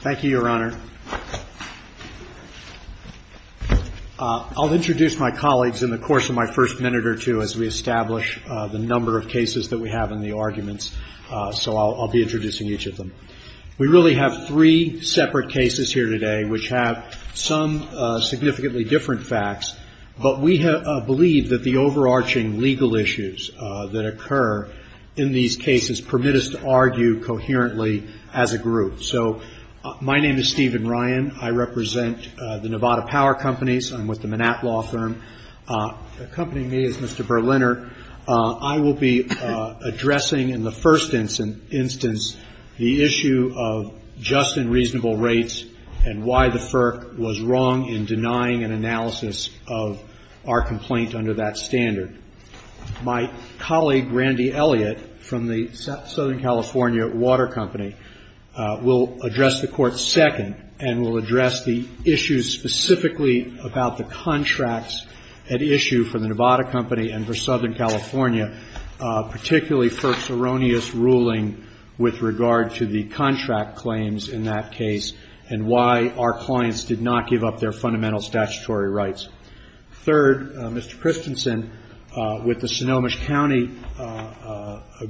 Thank you, Your Honor. I'll introduce my colleagues in the course of my first minute or two as we establish the number of cases that we have and the arguments, so I'll be introducing each of them. We really have three separate cases here today which have some significantly different facts, but we believe that the overarching legal issues that occur in these cases permit us to argue coherently as a group. So, my name is Stephen Ryan. I represent the Nevada Power Companies. I'm with the Manat Law Firm. Accompanying me is Mr. Berliner. I will be addressing in the first instance the issue of just and reasonable rates and why the FERC was wrong in denying an analysis of our complaint under that standard. My colleague, Randy Elliott, from the Southern California Water Company, will address the court second and will address the issues specifically about the contracts at issue for the Nevada Company and for Southern California, particularly FERC's erroneous ruling with regard to the contract claims in that case and why our clients did not give up their fundamental statutory rights. Third, Mr. Christensen with the Sonoma County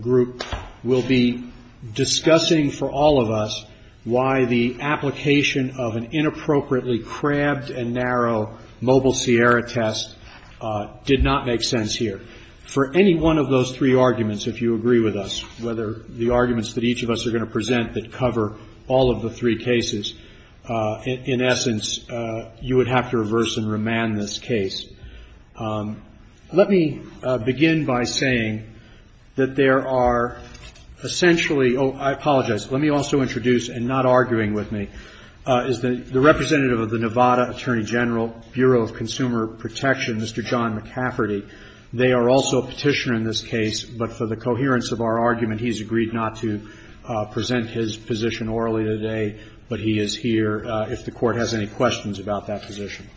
group will be discussing for all of us why the application of an inappropriately crabbed and narrow mobile Sierra test did not make sense here. For any one of those three arguments, if you agree with us, whether the arguments that each of us are going to present that cover all of the three cases, in essence, you would have to reverse and remand this case. Let me begin by saying that there are essentially, oh, I apologize, let me also introduce, and not arguing with me, is the representative of the Nevada Attorney General Bureau of Consumer Protection, Mr. John McCafferty. They are also a petitioner in this case, but for the coherence of our argument, he's agreed not to present his position orally today, but he is here if the court has any questions about that position.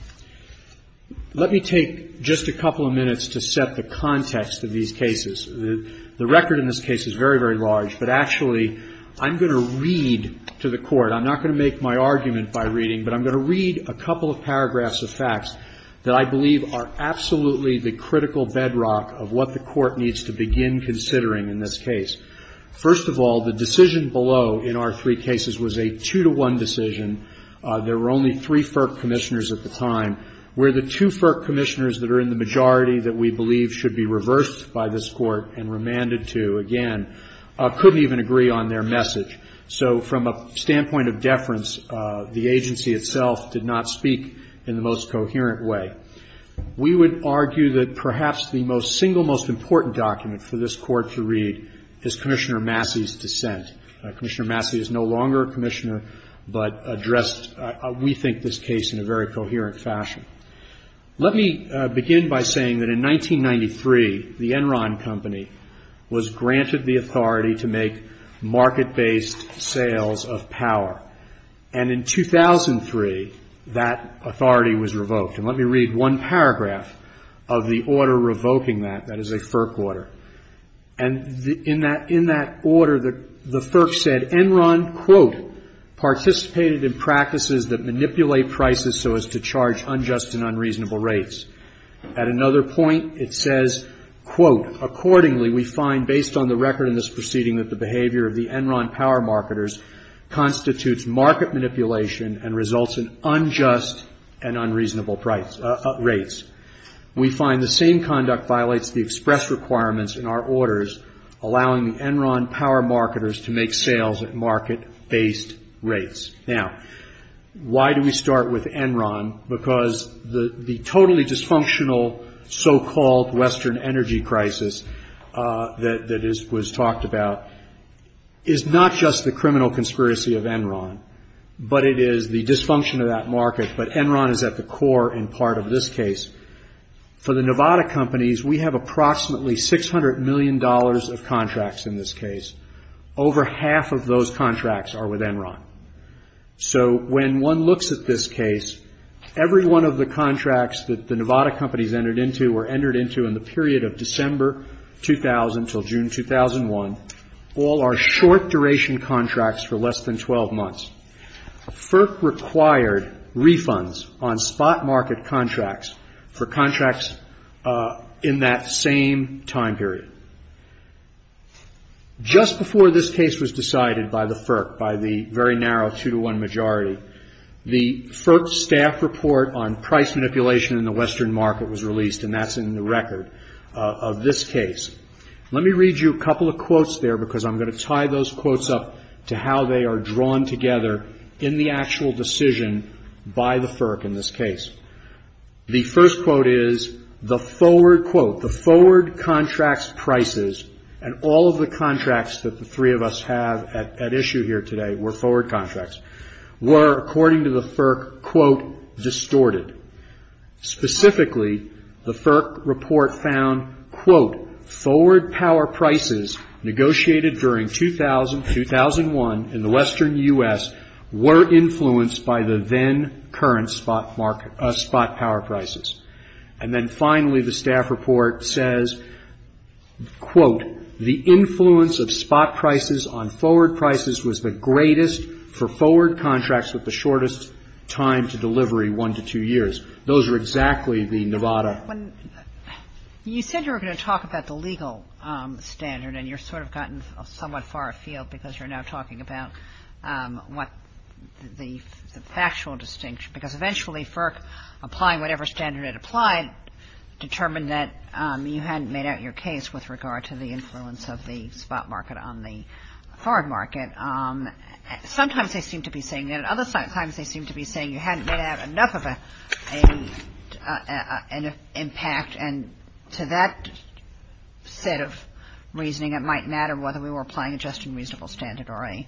Let me take just a couple of minutes to set the context of these cases. The record in this case is very, very large, but actually, I'm going to read to the court, I'm not going to make my argument by reading, but I'm going to read a couple of paragraphs of facts that I believe are absolutely the critical bedrock of what the court needs to begin considering in this case. First of all, the decision below in our three cases was a two-to-one decision. There were only three FERC commissioners at the time. Where the two FERC commissioners that are in the majority that we believe should be reversed by this court and remanded to, again, couldn't even agree on their message. So, from a standpoint of deference, the agency itself did not speak in the most coherent way. We would argue that perhaps the single most important document for this court to read is Commissioner Massey's dissent. Commissioner Massey is no longer a commissioner, but addressed, we think, this case in a very coherent fashion. Let me begin by saying that in 1993, the Enron Company was granted the authority to make market-based sales of power. And in 2003, that authority was revoked. And let me read one paragraph of the order revoking that. That is a FERC order. And in that order, the FERC said, Enron, quote, participated in practices that manipulate prices so as to charge unjust and unreasonable rates. At another point, it says, quote, accordingly, we find based on the record in this proceeding that the behavior of the Enron power marketers constitutes market manipulation and results in unjust and unreasonable rates. We find the same conduct violates the express requirements in our orders, allowing the Enron power marketers to make sales at market-based rates. Now, why do we start with Enron? Because the totally dysfunctional so-called Western energy crisis that was talked about is not just the criminal conspiracy of Enron, but it is the dysfunction of that market. But Enron is at the core and part of this case. For the Nevada companies, we have approximately $600 million of contracts in this case. Over half of those contracts are with Enron. So when one looks at this case, every one of the contracts that the Nevada companies entered into were entered into in the period of December 2000 until June 2001. All are short-duration contracts for less than 12 months. FERC required refunds on spot market contracts for contracts in that same time period. Just before this case was decided by the FERC, by the very narrow two-to-one majority, the FERC staff report on price manipulation in the Western market was released, and that's in the record of this case. Let me read you a couple of quotes there because I'm going to tie those quotes up to how they are drawn together in the actual decision by the FERC in this case. The first quote is, the forward contracts prices, and all of the contracts that the three of us have at issue here today were forward contracts, were according to the FERC, quote, distorted. Specifically, the FERC report found, quote, forward power prices negotiated during 2000-2001 in the Western U.S. were influenced by the then current spot power prices. And then finally, the staff report says, quote, the influence of spot prices on forward prices was the greatest for forward contracts with the shortest time to delivery, one to two years. Those were exactly the Nevada. You said you were going to talk about the legal standard, and you've sort of gotten somewhat far afield because you're now talking about what the factual distinction, because eventually FERC, applying whatever standard it applied, determined that you hadn't made out your case with regard to the influence of the spot market on the forward market. Sometimes they seem to be saying that, and other times they seem to be saying you hadn't made out enough of an impact. And to that set of reasoning, it might matter whether we were applying a just and reasonable standard or a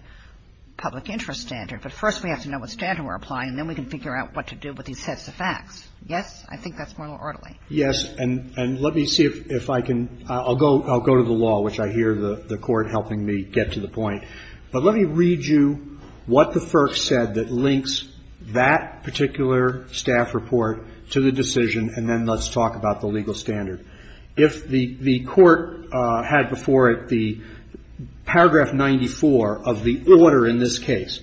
public interest standard. But first we have to know what standard we're applying, and then we can figure out what to do with these heads of facts. Yes? I think that's more orderly. Yes, and let me see if I can, I'll go to the law, which I hear the court helping me get to the point. But let me read you what the FERC said that links that particular staff report to the decision, and then let's talk about the legal standard. If the court had before it the paragraph 94 of the order in this case,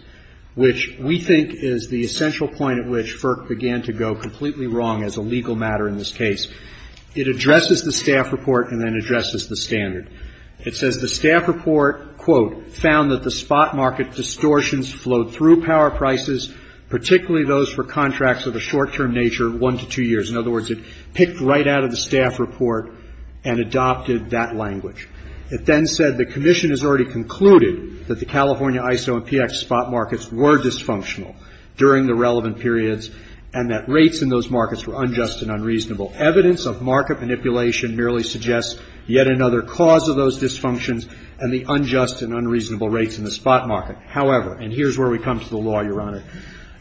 which we think is the essential point at which FERC began to go completely wrong as a legal matter in this case, it addresses the staff report and then addresses the standard. It says the staff report, quote, found that the spot market distortions flowed through power prices, particularly those for contracts of a short-term nature, one to two years. In other words, it picked right out of the staff report and adopted that language. It then said the commission has already concluded that the California ISO and PX spot markets were dysfunctional during the relevant periods, and that rates in those markets were unjust and unreasonable. Evidence of market manipulation merely suggests yet another cause of those dysfunctions and the unjust and unreasonable rates in the spot market. However, and here's where we come to the law, Your Honor,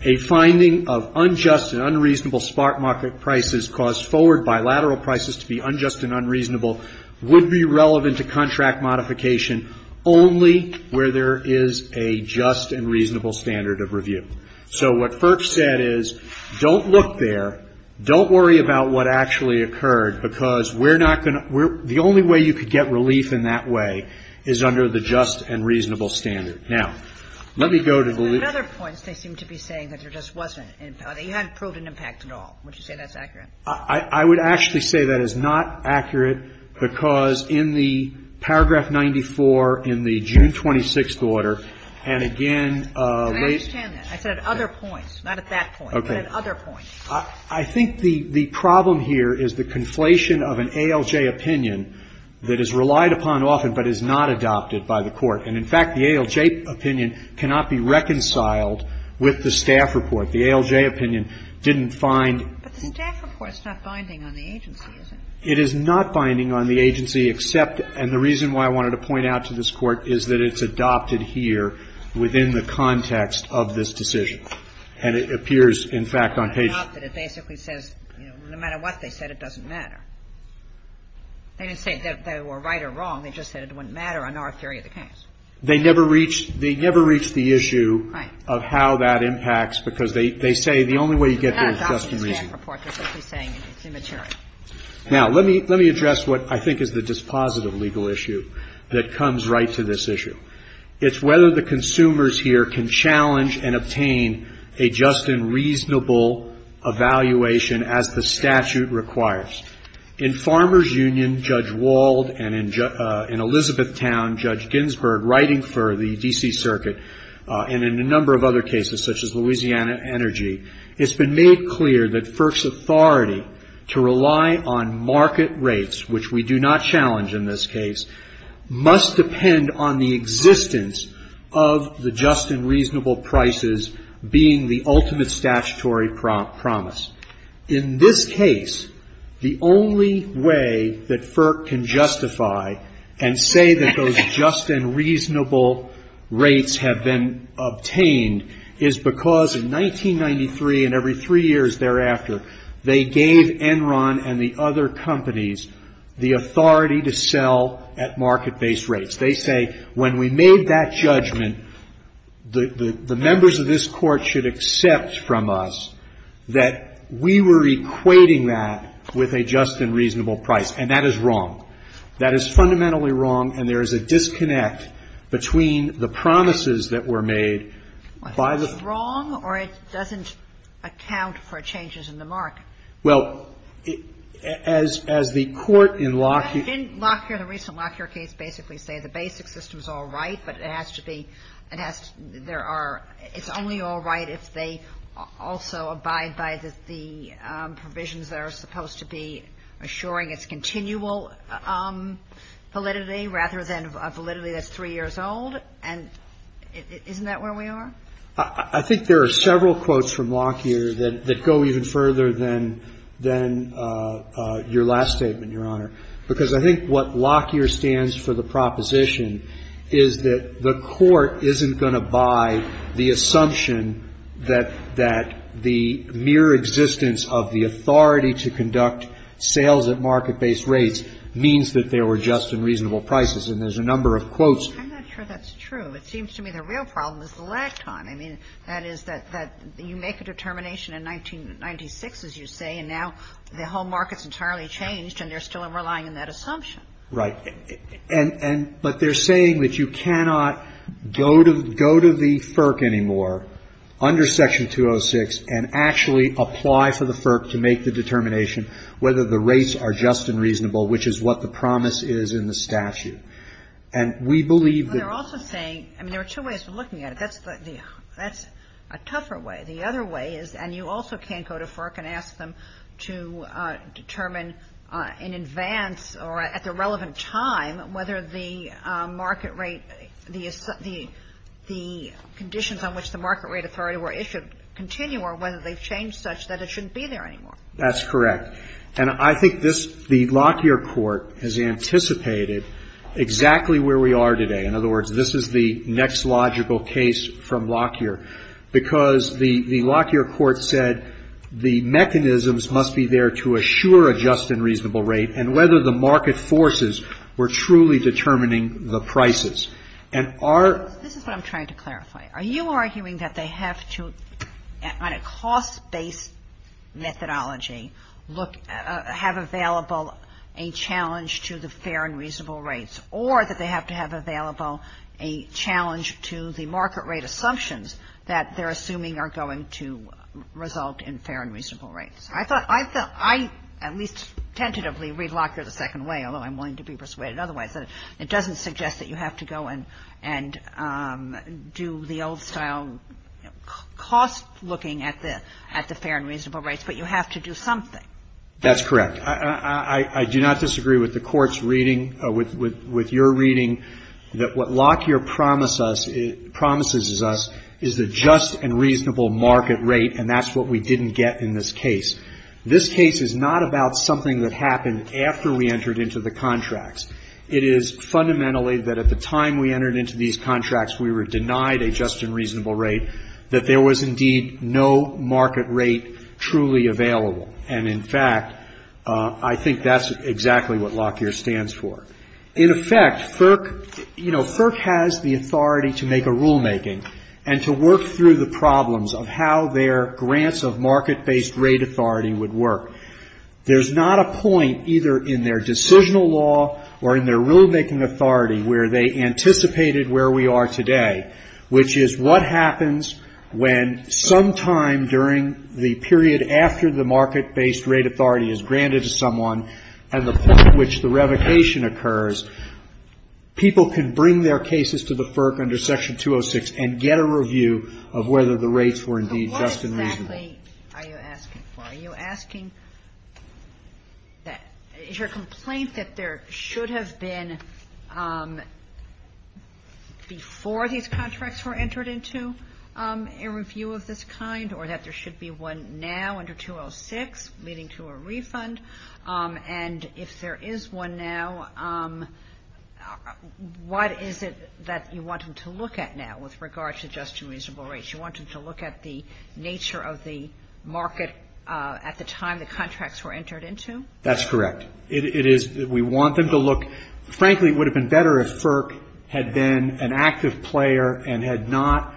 a finding of unjust and unreasonable spot market prices caused forward bilateral prices to be unjust and unreasonable would be relevant to contract modification only where there is a just and reasonable standard of review. So what FERC said is don't look there, don't worry about what actually occurred, because the only way you could get relief in that way is under the just and reasonable standard. Now, let me go to the other points they seem to be saying that there just wasn't. They hadn't proved an impact at all. Would you say that's accurate? I would actually say that is not accurate, because in the paragraph 94 in the June 26th order, and again, I understand that. I said other points, not at that point, but at other points. I think the problem here is the conflation of an ALJ opinion that is relied upon often but is not adopted by the court. And, in fact, the ALJ opinion cannot be reconciled with the staff report. The ALJ opinion didn't find... But the staff report is not binding on the agency, is it? It is not binding on the agency except, and the reason why I wanted to point out to this Court is that it's adopted here within the context of this decision. And it appears, in fact, on page... It's adopted. It basically says, you know, no matter what they said, it doesn't matter. They didn't say that they were right or wrong. They just said it wouldn't matter in our theory of the case. They never reached the issue of how that impacts, because they say the only way you get there is just in reason. Now, let me address what I think is the dispositive legal issue that comes right to this issue. It's whether the consumers here can challenge and obtain a just and reasonable evaluation as the statute requires. In Farmer's Union, Judge Wald, and in Elizabethtown, Judge Ginsburg, writing for the D.C. Circuit, and in a number of other cases, such as Louisiana Energy, it's been made clear that FERC's authority to rely on market rates, which we do not challenge in this case, must depend on the existence of the just and reasonable prices being the ultimate statutory promise. In this case, the only way that FERC can justify and say that those just and reasonable rates have been obtained is because in 1993, and every three years thereafter, they gave Enron and the other companies the authority to sell at market-based rates. They say, when we made that judgment, the members of this court should accept from us that we were equating that with a just and reasonable price. And that is wrong. That is fundamentally wrong, and there is a disconnect between the promises that were made by the- It's wrong, or it doesn't account for changes in the market? Well, as the court in Lockheed- I think Lockheed, in the recent Lockheed case, basically said the basic system's all right, but it has to be-it has-there are-it's only all right if they abide by the provisions that are supposed to be assuring its continual validity rather than a validity that's three years old, and isn't that where we are? I think there are several quotes from Lockheed that go even further than your last statement, Your Honor, because I think what Lockheer stands for, the proposition, is that the court isn't going to buy the assumption that the mere existence of the authority to conduct sales at market-based rates means that they were just and reasonable prices, and there's a number of quotes- I'm not sure that's true. It seems to me the real problem is the last time. I mean, that is that you make a determination in 1996, as you say, and now the whole market's entirely changed, and they're still relying on that assumption. Right. And-but they're saying that you cannot go to the FERC anymore under Section 206 and actually apply for the FERC to make the determination whether the rates are just and reasonable, which is what the promise is in the statute. And we believe that- I mean, there are two ways of looking at it. That's a tougher way. The other way is-and you also can't go to FERC and ask them to determine in advance or at the relevant time whether the market rate-the conditions on which the market rate authority were issued continue or whether they've changed such that it shouldn't be there anymore. That's correct. And I think this-the Lockyer court has anticipated exactly where we are today. In other words, this is the next logical case from Lockyer because the Lockyer court said the mechanisms must be there to assure a just and reasonable rate and whether the market forces were truly determining the prices. And our- This is what I'm trying to clarify. Are you arguing that they have to, on a cost-based methodology, look-have available a challenge to the fair and reasonable rates or that they have to have available a challenge to the market rate assumptions that they're assuming are going to result in fair and reasonable rates? I thought-I felt-I at least tentatively read Lockyer the second way, although I wanted to be persuaded otherwise. It doesn't suggest that you have to go and do the old-style cost-looking at the fair and reasonable rates, but you have to do something. That's correct. I do not disagree with the court's reading-with your reading that what Lockyer promises us is the just and reasonable market rate, and that's what we didn't get in this case. This case is not about something that happened after we entered into the contracts. It is fundamentally that at the time we entered into these contracts we were denied a just and reasonable rate, that there was indeed no market rate truly available. And, in fact, I think that's exactly what Lockyer stands for. In effect, FERC-you know, FERC has the authority to make a rulemaking and to work through the problems of how their grants of market-based rate authority would work. There's not a point either in their decisional law or in their rulemaking authority where they anticipated where we are today, which is what happens when sometime during the period after the market-based rate authority is granted to someone and the point at which the revocation occurs, people can bring their cases to the FERC under Section 206 and get a review of whether the rates were indeed just and reasonable. Are you asking-why are you asking that? Is your complaint that there should have been before these contracts were entered into a review of this kind or that there should be one now under 206 leading to a refund? And if there is one now, what is it that you want them to look at now with regard to just and reasonable rates? You want them to look at the nature of the market at the time the contracts were entered into? That's correct. It is-we want them to look-frankly, it would have been better if FERC had been an active player and had not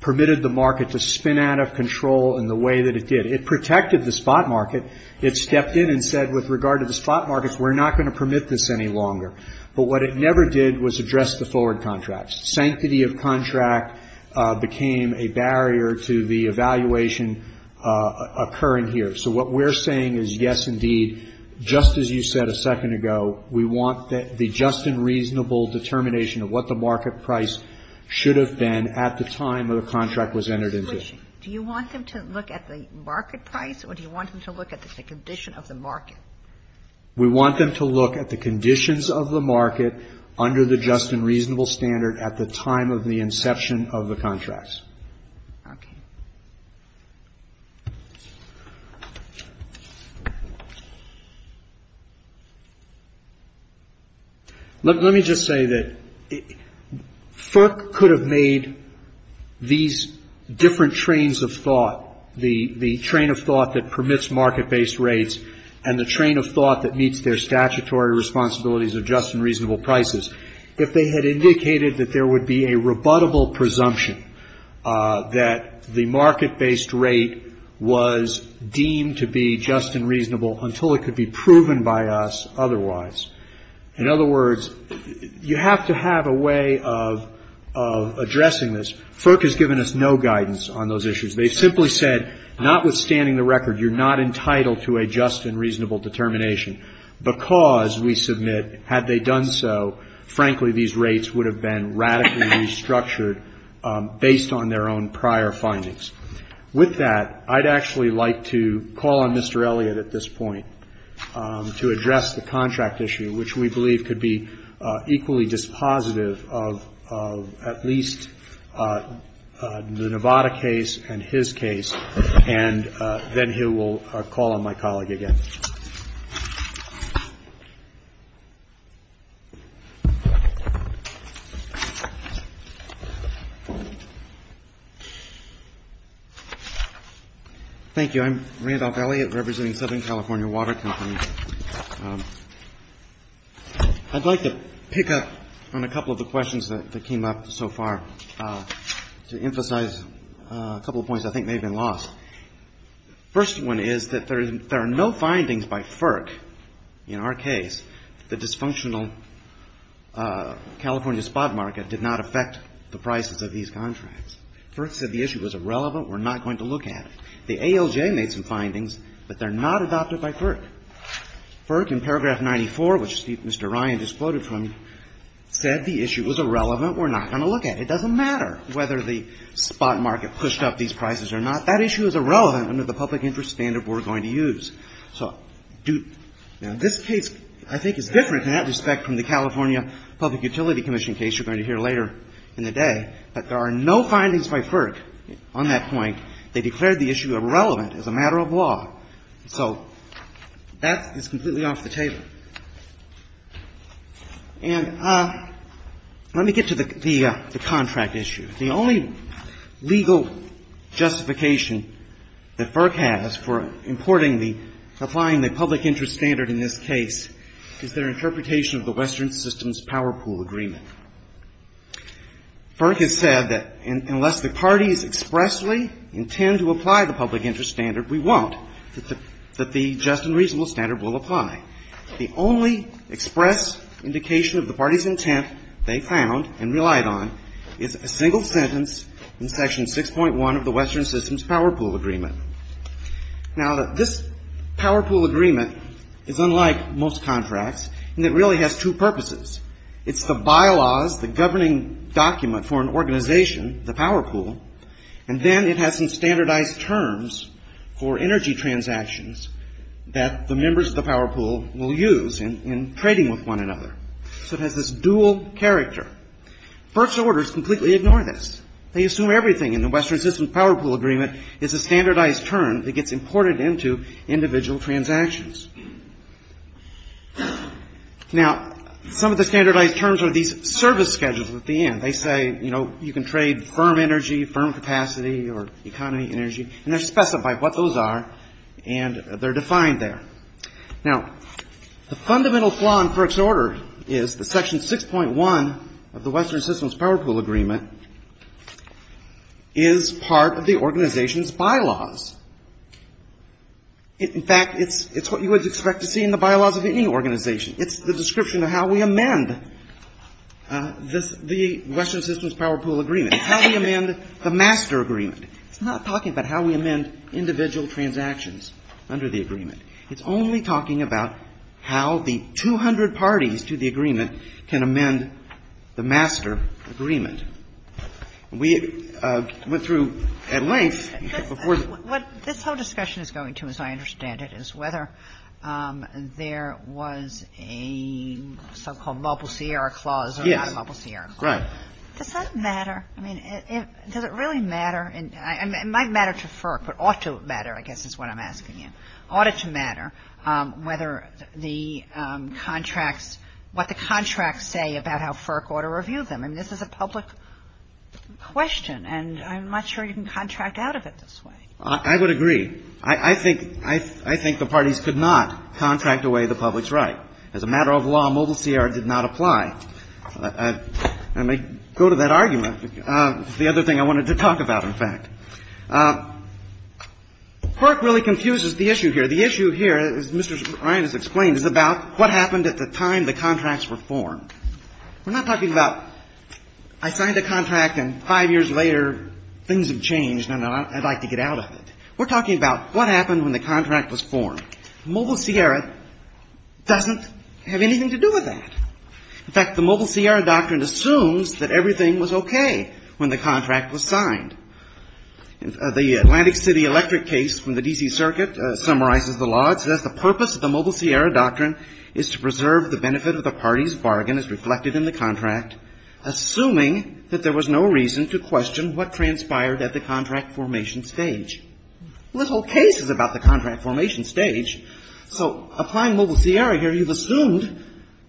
permitted the market to spin out of control in the way that it did. It protected the spot market. It stepped in and said, with regard to the spot markets, we're not going to permit this any longer. But what it never did was address the forward contracts. Sanctity of contract became a barrier to the evaluation occurring here. So, what we're saying is, yes, indeed, just as you said a second ago, we want the just and reasonable determination of what the market price should have been at the time the contract was entered into. Do you want them to look at the market price or do you want them to look at the condition of the market? We want them to look at the conditions of the market under the just and reasonable standard at the time of the inception of the contracts. Let me just say that FERC could have made these different trains of thought, the train of thought that permits market-based rates and the train of thought that meets their statutory responsibilities of just and reasonable prices, if they had indicated that there would be a rebuttable presumption that the market-based rate was deemed to be just and reasonable until it could be proven by us otherwise. In other words, you have to have a way of addressing this. FERC has given us no guidance on those issues. They simply said, notwithstanding the record, you're not entitled to a just and reasonable determination. Because, we submit, had they done so, frankly, these rates would have been radically restructured based on their own prior findings. With that, I'd actually like to call on Mr. Elliott at this point to address the contract issue, which we believe could be equally dispositive of at least the Nevada case and his case. And then he will call on my colleague again. Thank you. I'm Randolph Elliott, representing the Southern California Water Company. I'd like to pick up on a couple of the questions that came up so far. To emphasize a couple of points I think may have been lost. The first one is that there are no findings by FERC in our case. The dysfunctional California spot market did not affect the prices of these contracts. FERC said the issue was irrelevant. We're not going to look at it. The ALJ made some findings, but they're not adopted by FERC. FERC, in paragraph 94, which Mr. Ryan just quoted from, said the issue was irrelevant. We're not going to look at it. It doesn't matter whether the spot market pushed up these prices or not. That issue is irrelevant under the public interest standard we're going to use. Now, this case I think is different in that respect from the California Public Utility Commission case you're going to hear later in the day. But there are no findings by FERC on that point. They declared the issue irrelevant as a matter of law. So that is completely off the table. And let me get to the contract issue. The only legal justification that FERC has for importing the, for applying the public interest standard in this case is their interpretation of the Western Systems Power Pool Agreement. FERC has said that unless the parties expressly intend to apply the public interest standard, we won't, that the just and reasonable standard will apply. The only express indication of the parties' intent they found and relied on is a single sentence in Section 6.1 of the Western Systems Power Pool Agreement. Now, this Power Pool Agreement is unlike most contracts in that it really has two purposes. It's the bylaws, the governing document for an organization, the Power Pool. And then it has some standardized terms for energy transactions that the members of the Power Pool will use in trading with one another. So it has this dual character. FERC's orders completely ignore this. They assume everything in the Western Systems Power Pool Agreement is a standardized term that gets imported into individual transactions. Now, some of the standardized terms are these service schedules at the end. They say, you know, you can trade firm energy, firm capacity, or economy energy, and they specify what those are, and they're defined there. Now, the fundamental flaw in FERC's order is that Section 6.1 of the Western Systems Power Pool Agreement is part of the organization's bylaws. In fact, it's what you would expect to see in the bylaws of any organization. It's the description of how we amend the Western Systems Power Pool Agreement, how we amend the master agreement. It's not talking about how we amend individual transactions under the agreement. It's only talking about how the 200 parties to the agreement can amend the master agreement. We went through at length. What this whole discussion is going to, as I understand it, is whether there was a so-called mobile Sierra clause or not a mobile Sierra clause. Right. Does that matter? I mean, does it really matter? It might matter to FERC, but ought to matter, I guess, is what I'm asking you. Ought it to matter whether the contract, what the contracts say about how FERC ought to review them? I mean, this is a public question, and I'm not sure you can contract out of it this way. I would agree. I think the parties could not contract away the public's right. As a matter of law, mobile Sierra did not apply. I may go to that argument. The other thing I wanted to talk about, in fact. FERC really confuses the issue here. The issue here, as Mr. Ryan has explained, is about what happened at the time the contracts were formed. We're not talking about I signed a contract and five years later things have changed and I'd like to get out of it. We're talking about what happened when the contract was formed. Mobile Sierra doesn't have anything to do with that. In fact, the mobile Sierra doctrine assumes that everything was okay when the contract was signed. The Atlantic City Electric case from the D.C. Circuit summarizes the law. So that's the purpose of the mobile Sierra doctrine is to preserve the benefit of the party's bargain as reflected in the contract, assuming that there was no reason to question what transpired at the contract formation stage. Well, this whole case is about the contract formation stage. So applying mobile Sierra here, you've assumed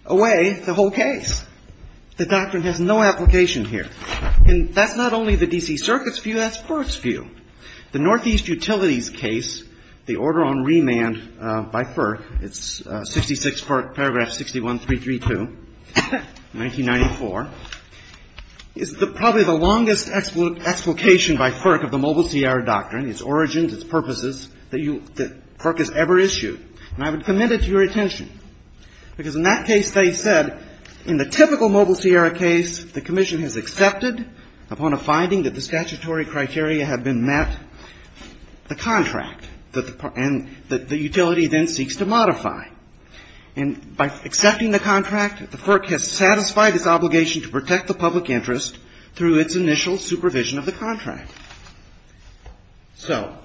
away the whole case. The doctrine has no application here. And that's not only the D.C. Circuit's view. That's FERC's view. The Northeast Utilities case, the order on remand by FERC, it's 66 FERC Paragraph 61332, 1994, is probably the longest explication by FERC of the mobile Sierra doctrine, its origins, its purposes, that FERC has ever issued. And I would commend it to your attention because in that case they said in the typical mobile Sierra case, if the commission has accepted upon a finding that the statutory criteria have been met, the contract and the utility then seeks to modify. And by accepting the contract, FERC has satisfied its obligation to protect the public interest through its initial supervision of the contract. So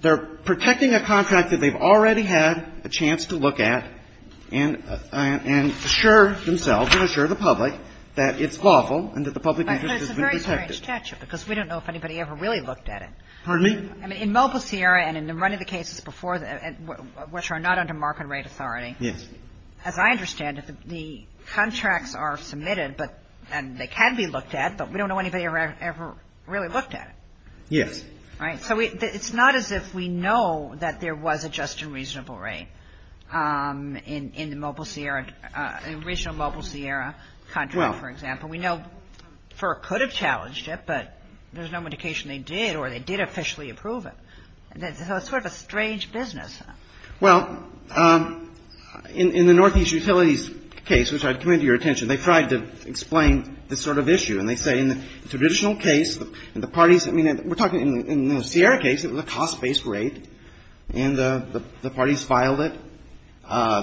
they're protecting a contract that they've already had a chance to look at and assure themselves and assure the public that it's lawful and that the public interest has been protected. Because we don't know if anybody ever really looked at it. Pardon me? In mobile Sierra and in many of the cases before that, which are not under market rate authority, as I understand it, the contracts are submitted and they can be looked at, but we don't know if anybody ever really looked at it. Yes. Right. So it's not as if we know that there was a just and reasonable rate in the mobile Sierra, in the original mobile Sierra contract, for example. We know FERC could have challenged it, but there's no indication they did or they did officially approve it. So it's sort of a strange business. Well, in the Northeast Utilities case, which I commend to your attention, they tried to explain this sort of issue. And they say in the traditional case, the parties, I mean, we're talking in the Sierra case, it was a cost-based rate. And the parties filed it.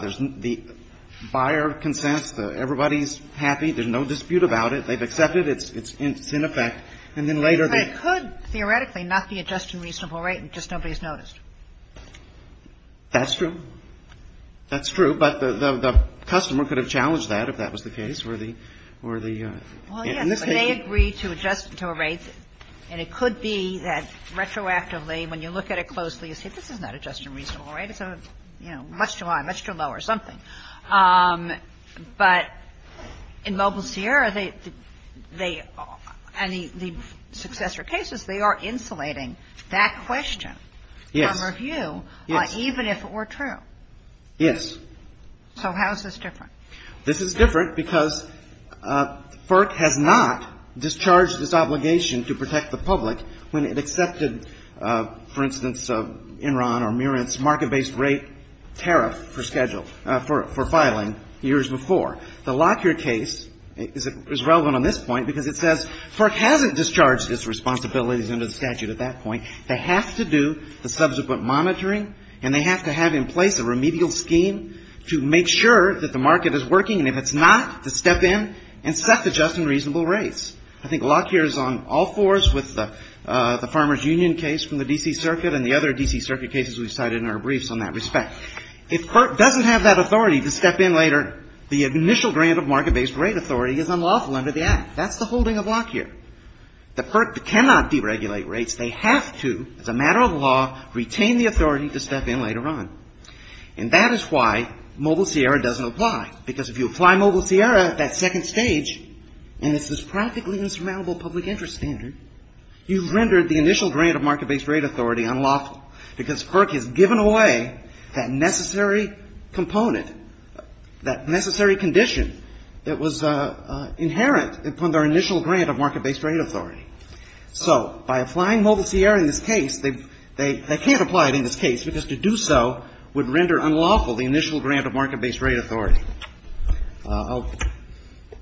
There's the buyer of consent. Everybody's happy. There's no dispute about it. They've accepted it. It's in effect. And then later they- They could theoretically knock the just and reasonable rate and just nobody's noticed. That's true. That's true. But the customer could have challenged that if that was the case. Well, yes, but they agreed to adjust to a rate. And it could be that retroactively, when you look at it closely, you say, this is not a just and reasonable rate. It's much too high, much too low, or something. But in mobile Sierra, the successor cases, they are insulating that question from review, even if it were true. Yes. So how is this different? This is different because FERC had not discharged its obligation to protect the public when it accepted, for instance, Enron or Murren's market-based rate tariff for filing years before. The Lockyer case is relevant on this point because it says FERC hasn't discharged its responsibilities under the statute at that point. They have to do the subsequent monitoring and they have to have in place a remedial scheme to make sure that the market is working. And if it's not, to step in and self-adjust in reasonable rates. I think Lockyer is on all fours with the Farmers Union case from the D.C. Circuit and the other D.C. Circuit cases we cited in our briefs on that respect. If FERC doesn't have that authority to step in later, the initial grant of market-based rate authority is unlawful under the act. That's the holding of Lockyer. The FERC cannot deregulate rates. They have to, as a matter of law, retain the authority to step in later on. And that is why Mobile Sierra doesn't apply. Because if you apply Mobile Sierra at that second stage and it's this practically insurmountable public interest standard, you've rendered the initial grant of market-based rate authority unlawful because FERC has given away that necessary component, that necessary condition that was inherent from their initial grant of market-based rate authority. So by applying Mobile Sierra in this case, they can't apply it in this case because to do so would render unlawful the initial grant of market-based rate authority.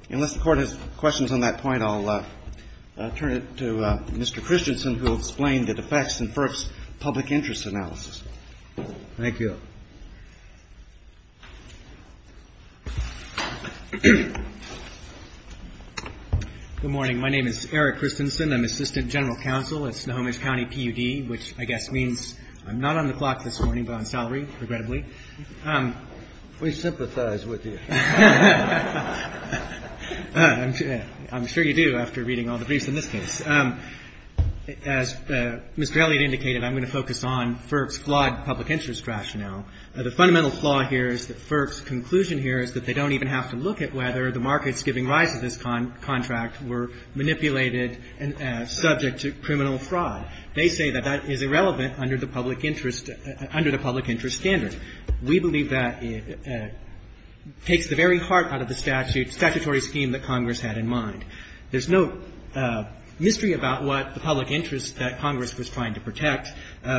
Unless the Court has questions on that point, I'll turn it to Mr. Christensen who will explain the defects in FERC's public interest analysis. Thank you. Good morning. My name is Eric Christensen. I'm Assistant General Counsel at Sonoma County PUD, which I guess means I'm not on the clock this morning, but I'm salaried, regrettably. We sympathize with you. I'm sure you do after reading all the briefs in this case. As Ms. Gelliard indicated, I'm going to focus on FERC's flawed public interest rationale. The fundamental flaw here is that FERC's conclusion here is that they don't even have to look at whether the markets giving rise to this contract were manipulated and subject to criminal fraud. They say that that is irrelevant under the public interest standard. We believe that it takes the very heart out of the statutory scheme that Congress had in mind. There's no mystery about what the public interest that Congress was trying to protect.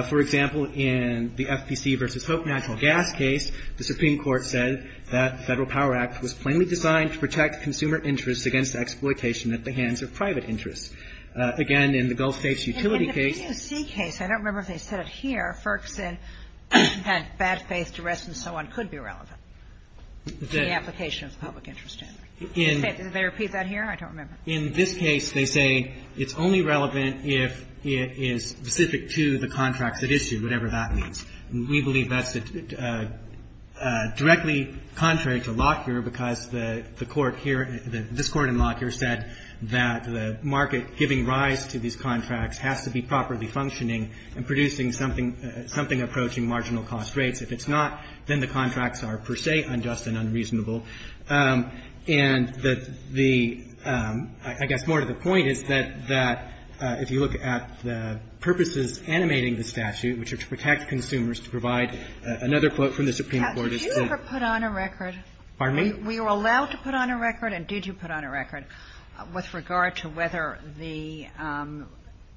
For example, in the FPC versus Hope Natural Gas case, the Supreme Court said that the Federal Power Act was plainly designed to protect consumer interests against exploitation at the hands of private interests. Again, in the Bill States Utility case... In the PTC case, I don't remember if they said it here, FERC said that bad faith duress and so on could be relevant to the application of the public interest standard. Did they repeat that here? I don't remember. In this case, they say it's only relevant if it is specific to the contract at issue, whatever that means. We believe that's directly contrary to Lockyer because the Court here, this Court in Lockyer, said that the market giving rise to these contracts has to be properly functioning and producing something approaching marginal cost rates. If it's not, then the contracts are per se unjust and unreasonable. I guess more to the point is that if you look at the purposes animating the statute, which are to protect consumers, to provide another quote from the Supreme Court... Did you ever put on a record... Pardon me? Were you allowed to put on a record and did you put on a record with regard to whether the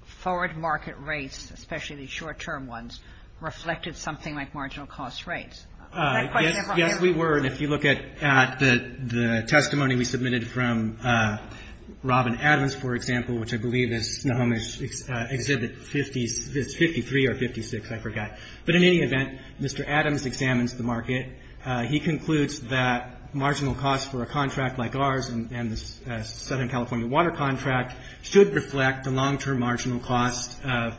forward market rates, especially the short-term ones, reflected something like marginal cost rates? Yes, we were. And if you look at the testimony we submitted from Robin Adams, for example, which I believe is 53 or 56, I forgot. But in any event, Mr. Adams examines the market. He concludes that marginal costs for a contract like ours and the Southern California water contract should reflect the long-term marginal costs of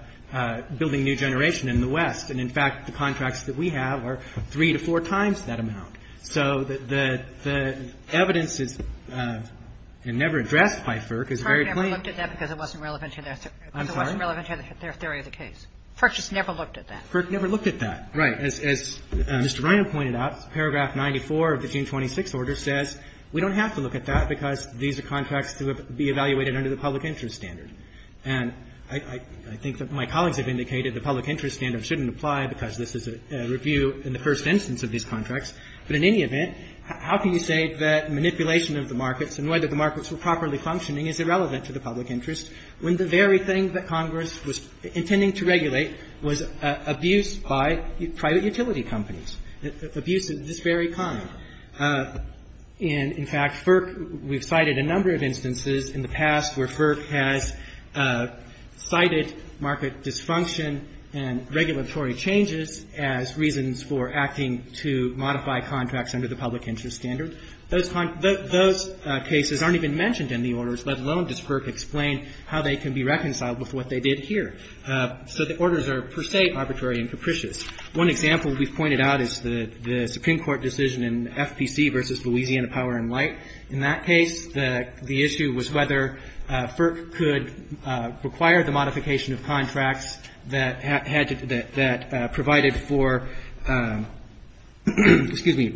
building new generation in the West. And in fact, the contracts that we have are three to four times that amount. So the evidence is never addressed by FERC. FERC never looked at that because it wasn't relevant to their theory of the case. FERC just never looked at that. FERC never looked at that. Right. As Mr. Ryan pointed out, paragraph 94 of the June 26th order says we don't have to look at that because these are contracts to be evaluated under the public interest standard. And I think that my colleagues have indicated the public interest standard shouldn't apply because this is a review in the first instance of these contracts. But in any event, how can you say that manipulation of the markets and whether the markets were properly functioning is irrelevant to the public interest when the very thing that Congress was intending to regulate was abuse by private utility companies? Abuse is very common. And in fact, FERC, we've cited a number of instances in the past where FERC has cited market dysfunction and regulatory changes as reasons for acting to modify contracts under the public interest standard. Those cases aren't even mentioned in the orders, let alone does FERC explain how they can be reconciled with what they did here. So the orders are per se arbitrary and capricious. One example we've pointed out is the Supreme Court decision in FPC versus Louisiana Power and Light. In that case, the issue was whether FERC could require the modification of contracts that provided for, excuse me,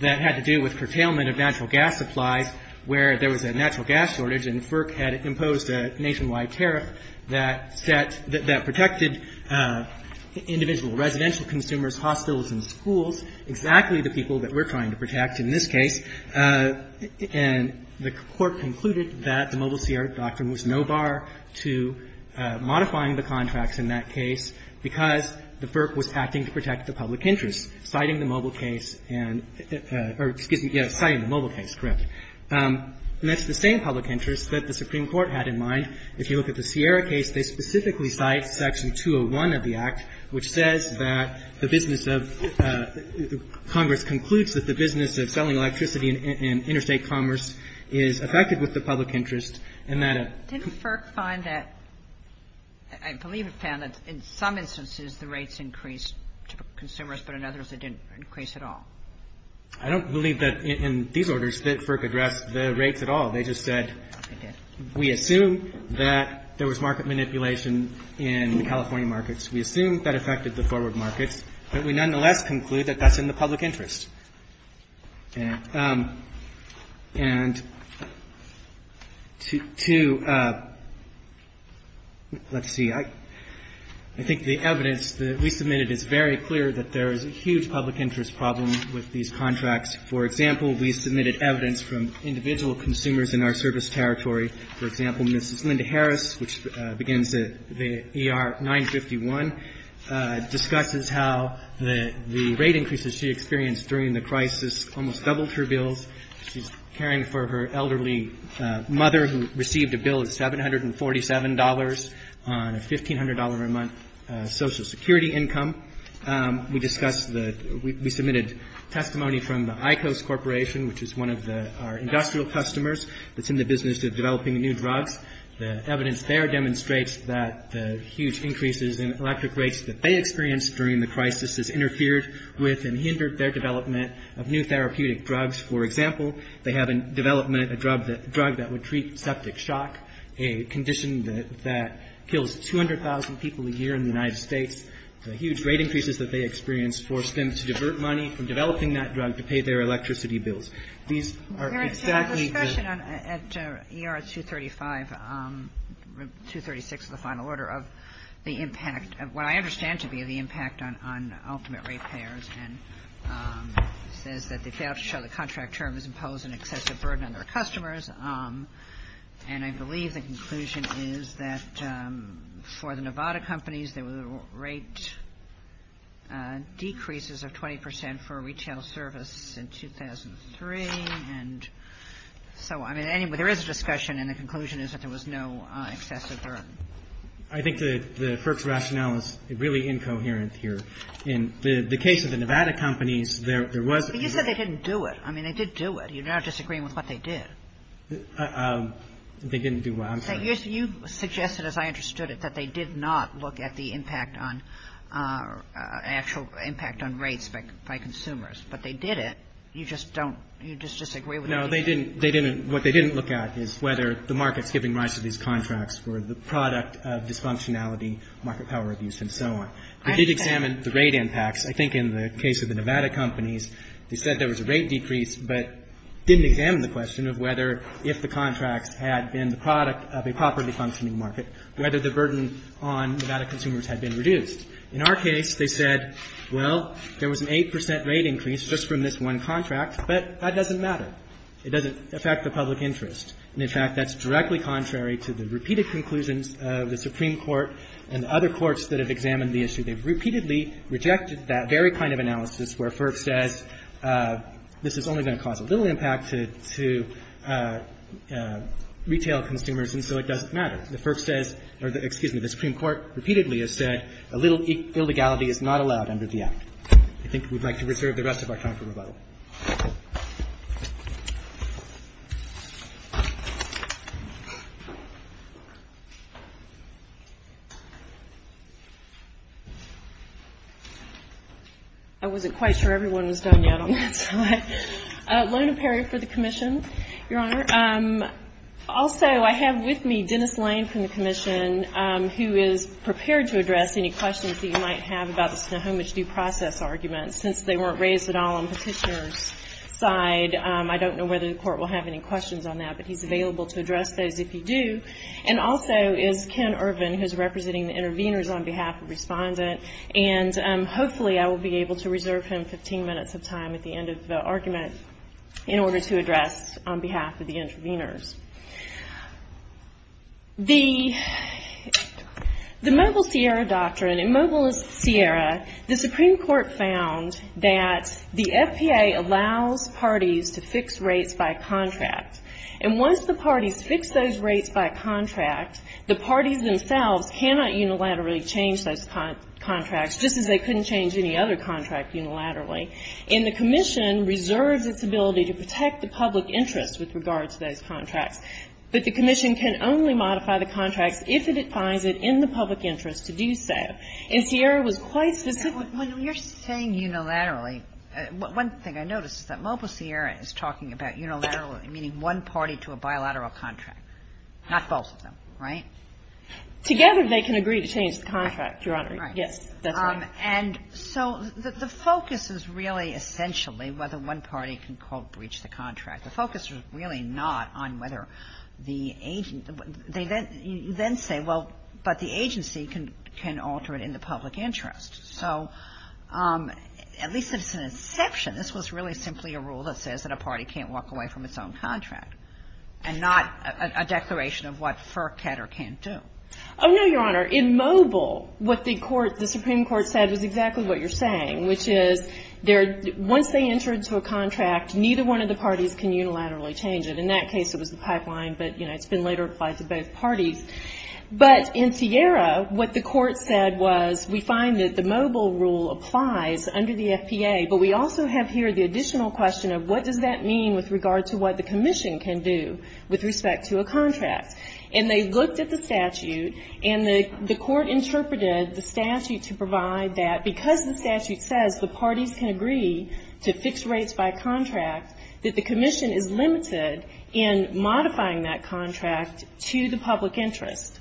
that had to do with curtailment of natural gas supplies where there was a natural gas shortage and FERC had imposed a nationwide tariff that protected individual residential consumers, hospitals and schools, exactly the people that we're trying to protect in this case. And the Court concluded that the Mobile Sierra doctrine was no bar to modifying the contracts in that case because the FERC was acting to protect the public interest, citing the Mobile case and, or excuse me, yes, citing the Mobile case, correct. And it's the same public interest that the Supreme Court had in mind. If you look at the Sierra case, they specifically cite Section 201 of the Act, which says that the business of commerce concludes that the business of selling electricity and interstate commerce is effective with the public interest. Didn't FERC find that, I believe it found that in some instances the rates increased to consumers, but in others it didn't increase at all? I don't believe that in these orders did FERC address the rates at all. They just said... It did. We assume that there was market manipulation in California markets. We assume that it protected the forward market, but we nonetheless conclude that that's in the public interest. And to, let's see, I think the evidence that we submitted is very clear that there is a huge public interest problem with these contracts. For example, we submitted evidence from individual consumers in our service territory. For example, Mrs. Linda Harris, which begins at AR 951, discusses how the rate increases she experienced during the crisis almost doubled her bills. She's caring for her elderly mother who received a bill of $747 on a $1,500 a month Social Security income. We discussed, we submitted testimony from the Icos Corporation, which is one of our industrial customers that's in the business of developing new drugs. The evidence there demonstrates that the huge increases in electric rates that they experienced during the crisis has interfered with and hindered their development of new therapeutic drugs. For example, they have in development a drug that would treat septic shock, a condition that kills 200,000 people a year in the United States. The huge rate increases that they experienced forced them to divert money from developing that drug to pay their electricity bills. These are exactly the- We had a discussion at ER 236 of the final order of the impact, what I understand to be the impact on ultimate rate payers. And it says that the contract term is imposing excessive burden on their customers. And I believe the conclusion is that for the Nevada companies, there were rate decreases of 20% for retail service in 2003. And so, I mean, anyway, there is a discussion and the conclusion is that there was no excessive burden. I think the FERC's rationale is really incoherent here. In the case of the Nevada companies, there was- You said they didn't do it. I mean, they did do it. You're not disagreeing with what they did. They didn't do what? I'm sorry. You suggested, as I understood it, that they did not look at the impact on-actual impact on rates by consumers. But they did it. You just don't-you just disagree with- No, they didn't. What they didn't look at is whether the market tipping rise of these contracts were the product of dysfunctionality, market power abuse, and so on. They did examine the rate impacts. I think in the case of the Nevada companies, they said there was a rate decrease, but didn't examine the question of whether, if the contract had been the product of a properly functioning market, whether the burden on Nevada consumers had been reduced. In our case, they said, well, there was an 8% rate increase just from this one contract, but that doesn't matter. It doesn't affect the public interest. And, in fact, that's directly contrary to the repeated conclusions of the Supreme Court and other courts that have examined the issue. They've repeatedly rejected that very kind of analysis where FERC says this is only going to cause a little impact to retail consumers, and so it doesn't matter. The FERC says-or, excuse me, the Supreme Court repeatedly has said a little illegality is not allowed under the Act. I think we'd like to reserve the rest of our time for rebuttal. Thank you. I wasn't quite sure everyone was done yet on this slide. Lorna Perry for the Commission, Your Honor. Also, I have with me Dennis Lane from the Commission, who is prepared to address any questions you might have about the Snohomish Due Process argument since they weren't raised at all on the petitioner's side. I don't know whether the Court will have any questions on that, but he's available to address those if you do. And also is Ken Irvin, who's representing the interveners on behalf of the respondent. And, hopefully, I will be able to reserve him 15 minutes of time at the end of the argument in order to address on behalf of the interveners. The Mobile Sierra Doctrine. In Mobile Sierra, the Supreme Court found that the SPA allows parties to fix rates by contract. And once the parties fix those rates by contract, the parties themselves cannot unilaterally change those contracts, just as they couldn't change any other contracts unilaterally. And the Commission reserves its ability to protect the public interest with regard to those contracts. But the Commission can only modify the contract if it finds it in the public interest to do so. And Sierra was quite successful. When you're saying unilaterally, one thing I noticed is that Mobile Sierra is talking about unilaterally, meaning one party to a bilateral contract, not both of them, right? Together, they can agree to change the contract, Your Honor. Yes, that's right. And so the focus is really, essentially, whether one party can, quote, reach the contract. The focus is really not on whether the agency, you then say, well, but the agency can alter it in the public interest. So at least it's an exception. This was really simply a rule that says that a party can't walk away from its own contract, and not a declaration of what FERC can or can't do. Oh, no, Your Honor. In Mobile, what the Supreme Court said is exactly what you're saying, which is once they enter into a contract, neither one of the parties can unilaterally change it. In that case, it was a pipeline, but, you know, it's been later applied to both parties. But in Sierra, what the Court said was we find that the Mobile rule applies under the FTA, but we also have here the additional question of what does that mean with regard to what the Commission can do with respect to a contract. And they looked at the statute, and the Court interpreted the statute to provide that because the statute says the parties can agree to fixed rates by contract, that the Commission is limited in modifying that contract to the public interest,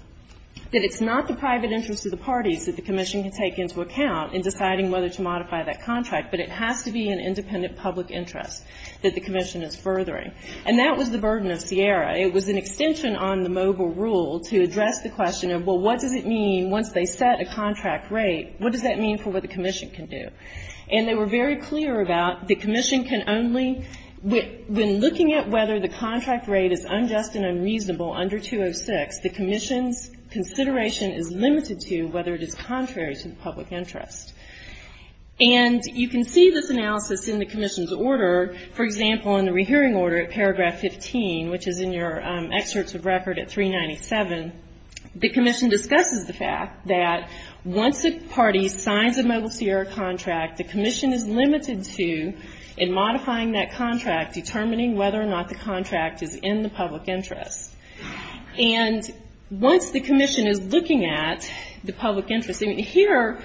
that it's not the private interest of the parties that the Commission can take into account in deciding whether to modify that contract, but it has to be an independent public interest that the Commission is furthering. And that was the burden of Sierra. It was an extension on the Mobile rule to address the question of, well, what does it mean once they set a contract rate, what does that mean for what the Commission can do? And they were very clear about the Commission can only, when looking at whether the contract rate is unjust and unreasonable under 206, the Commission's consideration is limited to whether it is contrary to the public interest. And you can see this analysis in the Commission's order. For example, in the rehearing order at paragraph 15, which is in your excerpts of record at 397, the Commission discusses the fact that once a party signs a Mobile Sierra contract, the Commission is limited to, in modifying that contract, determining whether or not the contract is in the public interest. And once the Commission is looking at the public interest, And here,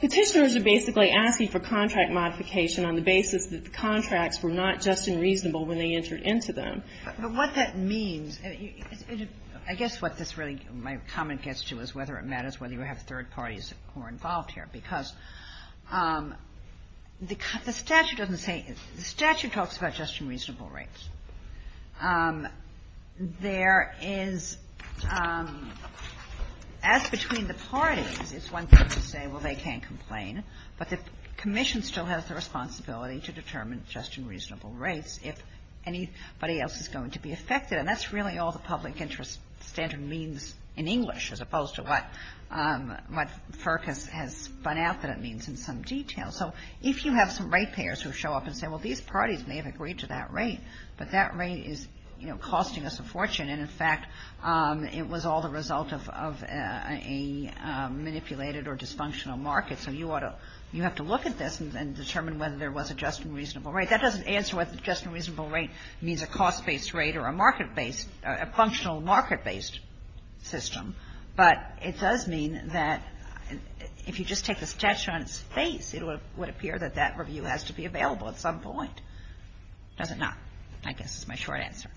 petitioners are basically asking for contract modification on the basis that the contracts were not just and reasonable when they entered into them. But what that means, I guess what this really, my comment gets to is whether it matters whether you have third parties who are involved here. Because the statute doesn't say, the statute talks about just and reasonable rates. There is, as between the parties, it's one thing to say, well, they can't complain. But the Commission still has the responsibility to determine just and reasonable rates if anybody else is going to be affected. And that's really all the public interest standard means in English, as opposed to what FERC has spun out that it means in some detail. So if you have some rate payers who show up and say, well, these parties may have agreed to that rate, but that rate is costing us a fortune. And in fact, it was all the result of a manipulated or dysfunctional market. So you have to look at this and determine whether there was a just and reasonable rate. That doesn't answer what just and reasonable rate means, a cost-based rate or a market-based, a functional market-based system. But it does mean that if you just take a test on its face, it would appear that that review has to be available at some point. Does it not? I guess that's my short answer.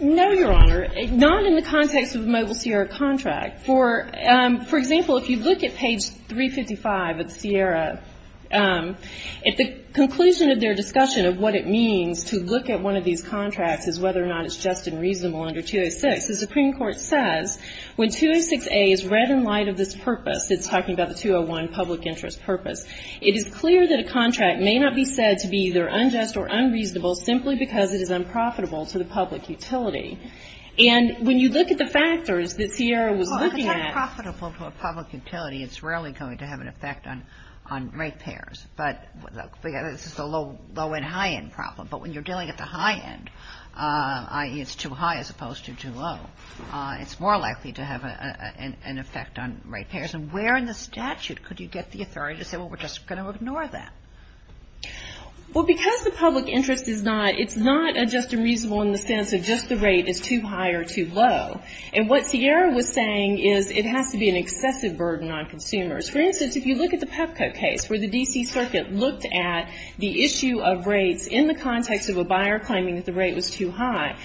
No, Your Honor, not in the context of a Mobile Sierra contract. For example, if you look at page 355 of Sierra, at the conclusion of their discussion of what it means to look at one of these contracts as whether or not it's just and reasonable under 206, the Supreme Court says, when 206A is read in light of this purpose, it's talking about the 201 public interest purpose, it is clear that a contract may not be said to be either unjust or unreasonable simply because it is unprofitable to the public utility. And when you look at the factors that Sierra was looking at... Well, if it's not profitable to a public utility, it's rarely going to have an effect on rate payers. But look, this is a low-end, high-end problem. But when you're dealing at the high end, i.e. it's too high as opposed to too low, it's more likely to have an effect on rate payers. And where in the statute could you get the authority to say, well, we're just going to ignore that? Well, because the public interest is not just and reasonable in the sense that just the rate is too high or too low. And what Sierra was saying is it has to be an excessive burden on consumers. For instance, if you look at the Pepco case where the D.C. Circuit looked at the issue of rates in the context of a buyer claiming that the rate was too high,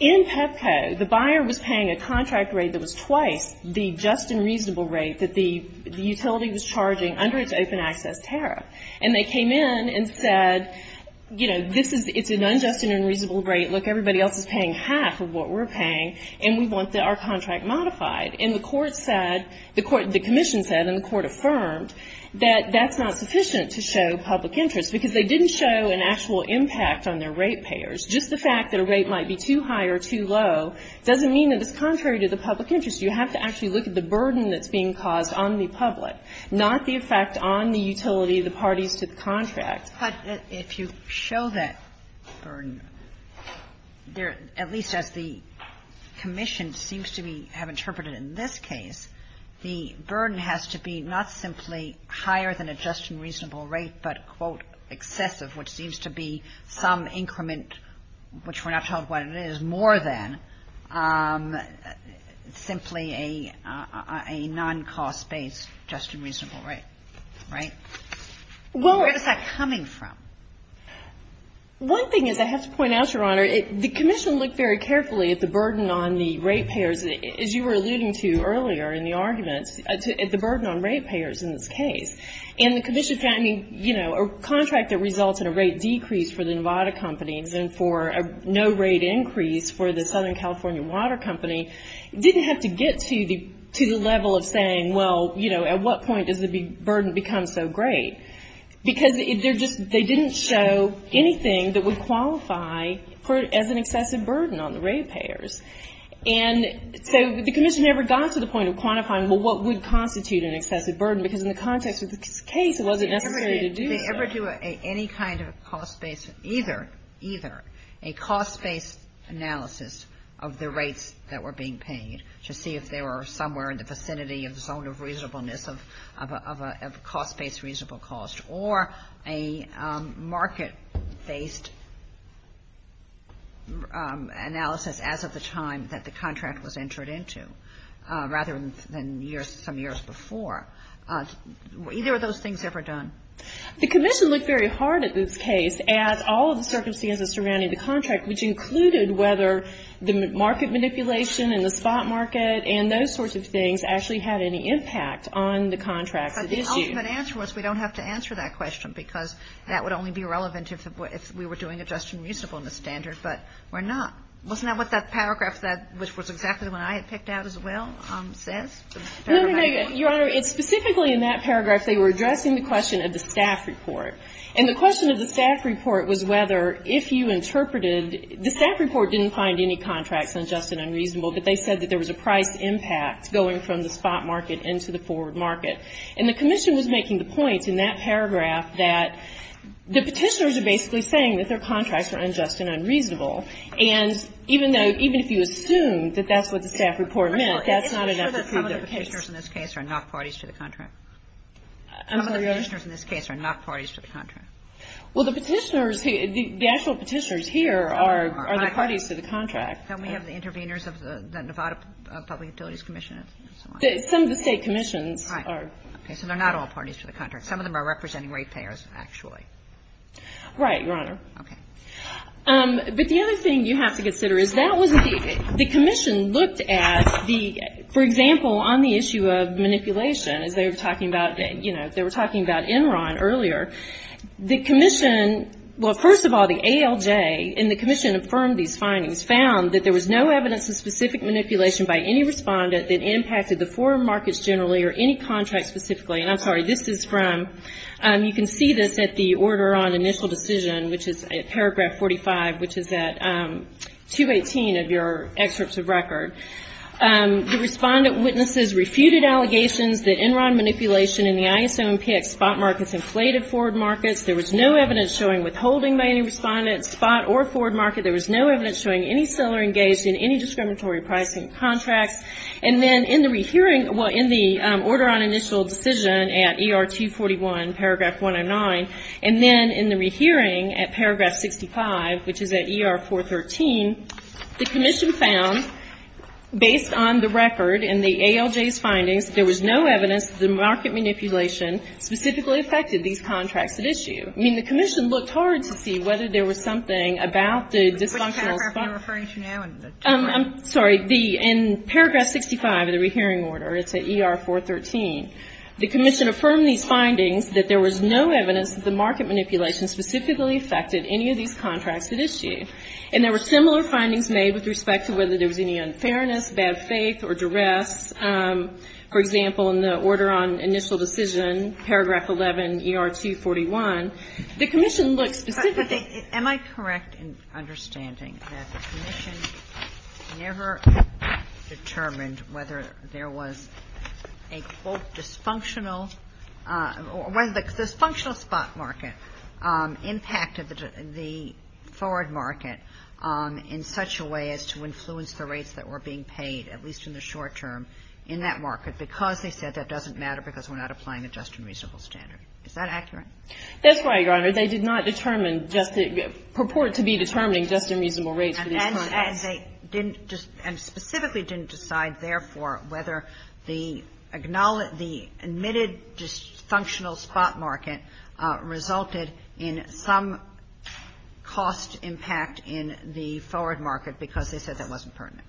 In Pepco, the buyer was paying a contract rate that was twice the just and reasonable rate that the utility was charging under its open access tariff. And they came in and said, you know, it's an unjust and unreasonable rate. Look, everybody else is paying half of what we're paying and we want our contract modified. And the court said, the commission said and the court affirmed that that's not sufficient to show public interest because they didn't show an actual impact on their rate payers. Just the fact that a rate might be too high or too low doesn't mean that it's contrary to the public interest. You have to actually look at the burden that's being caused on the public, not the effect on the utility of the parties to the contract. But if you show that burden, at least as the commission seems to have interpreted in this case, the burden has to be not simply higher than a just and reasonable rate but, quote, excessive, which seems to be some increment, which we're not told what it is, more than simply a non-cost based just and reasonable rate. Where is that coming from? One thing is I have to point out, Your Honor, the commission looked very carefully at the burden on the rate payers. As you were alluding to earlier in the argument, the burden on rate payers in this case. And the commission said, I mean, you know, a contract that results in a rate decrease for the Nevada companies and for a no rate increase for the Southern California Water Company didn't have to get to the level of saying, well, you know, at what point does the burden become so great? Because they didn't show anything that would qualify as an excessive burden on the rate payers. And so the commission never got to the point of quantifying, well, what would constitute an excessive burden? Because in the context of this case, it wasn't ever ready to do that. Did they ever do any kind of cost based, either, either, a cost based analysis of the rates that were being paid to see if they were somewhere in the vicinity of the zone of reasonableness of a cost based reasonable cost or a market based analysis as of the time that the contract was entered into rather than years, some years before. Either of those things ever done? The commission looked very hard at this case at all the circumstances surrounding the contract, which included whether the market manipulation and the spot market and those sorts of things actually had any impact on the contract. But the ultimate answer was we don't have to answer that question, because that would only be relevant if we were doing adjusted reasonableness standards. But we're not. Wasn't that what that paragraph said, which was exactly the one I had picked out as well? Your Honor, it's specifically in that paragraph they were addressing the question of the staff report. And the question of the staff report was whether if you interpreted the staff report didn't find any contracts unjust and unreasonable, but they said that there was a price impact going from the spot market into the forward market. And the commission was making the point in that paragraph that the petitioners are basically saying that their contracts are unjust and unreasonable. And even if you assume that that's what the staff report meant, that's not enough to prove their case. I'm sure that some of the petitioners in this case are not parties to the contract. I'm sorry, go ahead. Some of the petitioners in this case are not parties to the contract. Well, the petitioners, the actual petitioners here are the parties to the contract. Some of the state commissions are. Okay, so they're not all parties to the contract. Some of them are representing rate payers, actually. Right, Your Honor. Okay. But the other thing you have to consider is that the commission looked at the, for example, on the issue of manipulation, as they were talking about, you know, they were talking about Enron earlier. The commission, well, first of all, the ALJ and the commission affirmed these findings, found that there was no evidence of specific manipulation by any respondent that impacted the foreign markets generally or any contract specifically. And I'm sorry, this is from, you can see this at the order on initial decision, which is paragraph 45, which is at 218 of your excerpts of record. The respondent witnesses refuted allegations that Enron manipulation in the ISOMPIC spot markets inflated forward markets. There was no evidence showing withholding by any respondent, spot or forward market. There was no evidence showing any seller engaged in any discriminatory pricing of contracts. And then in the re-hearing, well, in the order on initial decision at ER 241, paragraph 109, and then in the re-hearing at paragraph 65, which is at ER 413, the commission found, based on the record and the ALJ's findings, there was no evidence that market manipulation specifically affected these contracts at issue. I mean, the commission looked hard to see whether there was something about the dysfunctional. I'm sorry, in paragraph 65 of the re-hearing order, it's at ER 413, the commission affirmed these findings that there was no evidence that the market manipulation specifically affected any of these contracts at issue. And there were similar findings made with respect to whether there was any unfairness, bad faith, or duress. For example, in the order on initial decision, paragraph 11, ER 241, the commission looked. Am I correct in understanding that the commission never determined whether there was a full dysfunctional, one of the dysfunctional spot markets impacted the forward market in such a way as to influence the rates that were being paid, at least in the short term, in that market because they said that doesn't matter because we're not applying a just and reasonable standard? Is that accurate? That's right, Your Honor. They did not determine, purport to be determining just and reasonable rates in these contracts. And specifically didn't decide, therefore, whether the admitted dysfunctional spot market resulted in some cost impact in the forward market because they said that wasn't pertinent.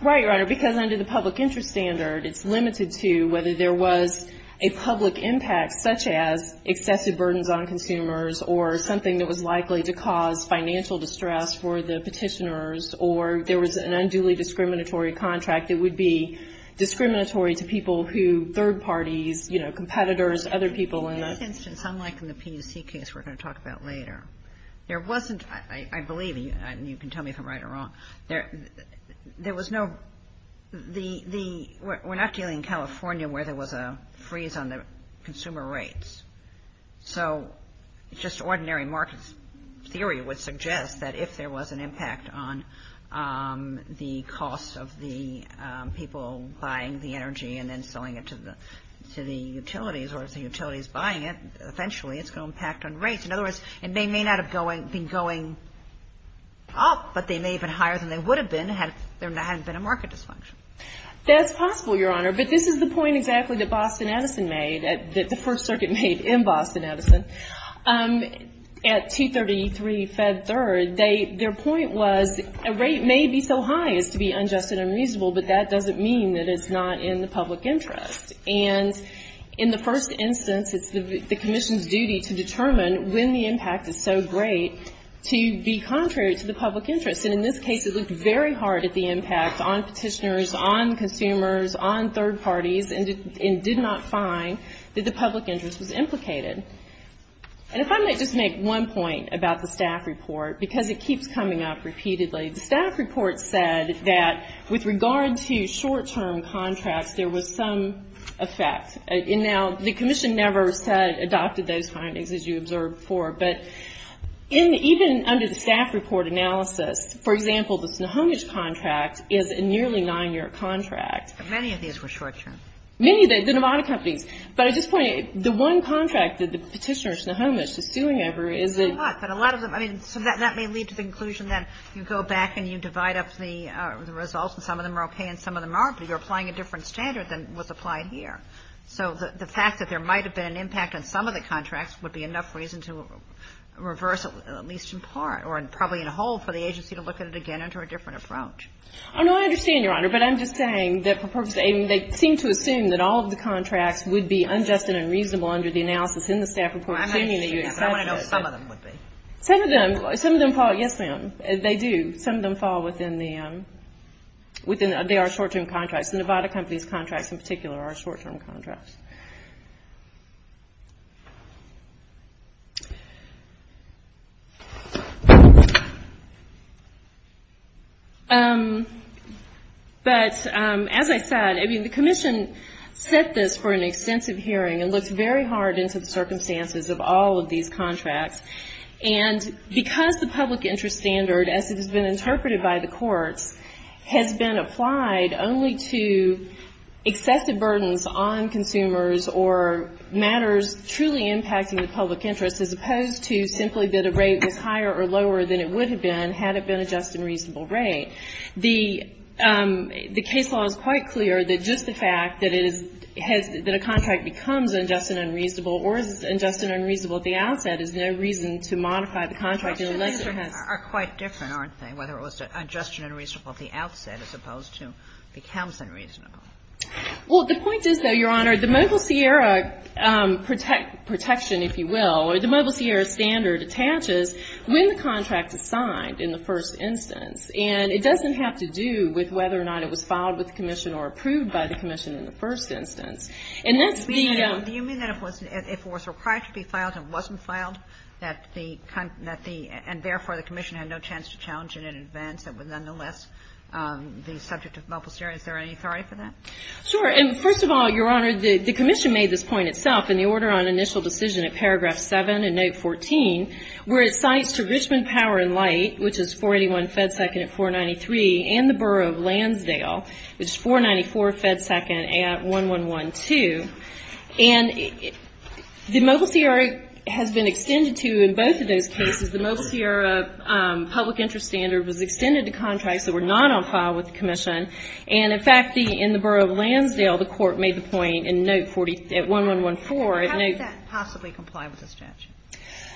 Right, Your Honor. Because under the public interest standard, it's limited to whether there was a public impact such as excessive burdens on consumers or something that was likely to cause financial distress for the petitioners or there was an unduly discriminatory contract that would be discriminatory to people who, third parties, you know, competitors, other people. For instance, unlike in the PUC case we're going to talk about later, there wasn't, I believe, and you can tell me if I'm right or wrong, there was no, we're not dealing in California where there was a freeze on the consumer rates. So it's just ordinary market theory would suggest that if there was an impact on the cost of the people buying the energy and then selling it to the utilities or if the utility is buying it, essentially it's going to impact on rates. In other words, they may not have been going up, but they may have been higher than they would have been if there hadn't been a market dysfunction. That's possible, Your Honor. But this is the point exactly that Boston Edison made, that the First Circuit made in Boston Edison. At 233 Fed Third, their point was a rate may be so high as to be unjust and unreasonable, but that doesn't mean that it's not in the public interest. And in the first instance, it's the commission's duty to determine when the impact is so great to be contrary to the public interest. And in this case, it looked very hard at the impact on petitioners, on consumers, on third parties, and did not find that the public interest was implicated. And if I may just make one point about the staff report, because it keeps coming up repeatedly, the staff report said that with regard to short-term contracts, there was some effect. And now, the commission never said about the base findings as you observed before, but even under the staff report analysis, for example, the Snohomish contract is a nearly nine-year contract. Many of these were short-term. Many of these, and a lot of companies. But at this point, the one contract that the petitioner, Snohomish, is suing over is the- So that may lead to the conclusion that you go back and you divide up the results, and some of them are okay and some of them aren't, but you're applying a different standard than was applied here. So the fact that there might have been an impact on some of the contracts would be enough reason to reverse it, at least in part, or probably in a whole, for the agency to look at it again under a different approach. Oh, no, I understand, Your Honor. But I'm just saying that they seem to assume that all of the contracts would be unjust and unreasonable under the analysis in the staff report. I want to know if some of them would be. Some of them. Some of them fall, yes, ma'am. They do. Some of them fall within their short-term contracts. Nevada Company's contracts, in particular, are short-term contracts. But as I said, I mean, the Commission tested for an extensive hearing and looked very hard into the circumstances of all of these contracts. And because the public interest standard, as it has been interpreted by the court, has been applied only to excessive burdens on consumers or matters truly impacting the public interest, as opposed to simply that a rate was higher or lower than it would have been had it been a just and reasonable rate. The case law is quite clear that just the fact that a contract becomes unjust and unreasonable or is unjust and unreasonable at the outset is no reason to modify the contract unless it has These are quite different, aren't they? Whether it was unjust and unreasonable at the outset as opposed to becomes unreasonable. Well, the point is, though, Your Honor, the Mobile Sierra protection, if you will, or the Mobile Sierra standard attaches when the contract is signed in the first instance. And it doesn't have to do with whether or not it was filed with the Commission or approved by the Commission in the first instance. You mean that if it was required to be filed and wasn't filed, and therefore the Commission had no chance to challenge it in advance and was on the list, the subject of Mobile Sierra, is there any theory for that? Sure. And first of all, Your Honor, the Commission made this point itself in the order on initial decision at paragraph 7 in note 14, where it cites for Grishman Power and Light, which is 481 FedSecond at 493, and the Borough of Lansdale, which is 494 FedSecond at 1112. And the Mobile Sierra has been extended to in both of those cases. The Mobile Sierra public interest standard was extended to contracts that were not on file with the Commission. And, in fact, in the Borough of Lansdale, the court made the point in note at 1114. How does that possibly comply with the statute?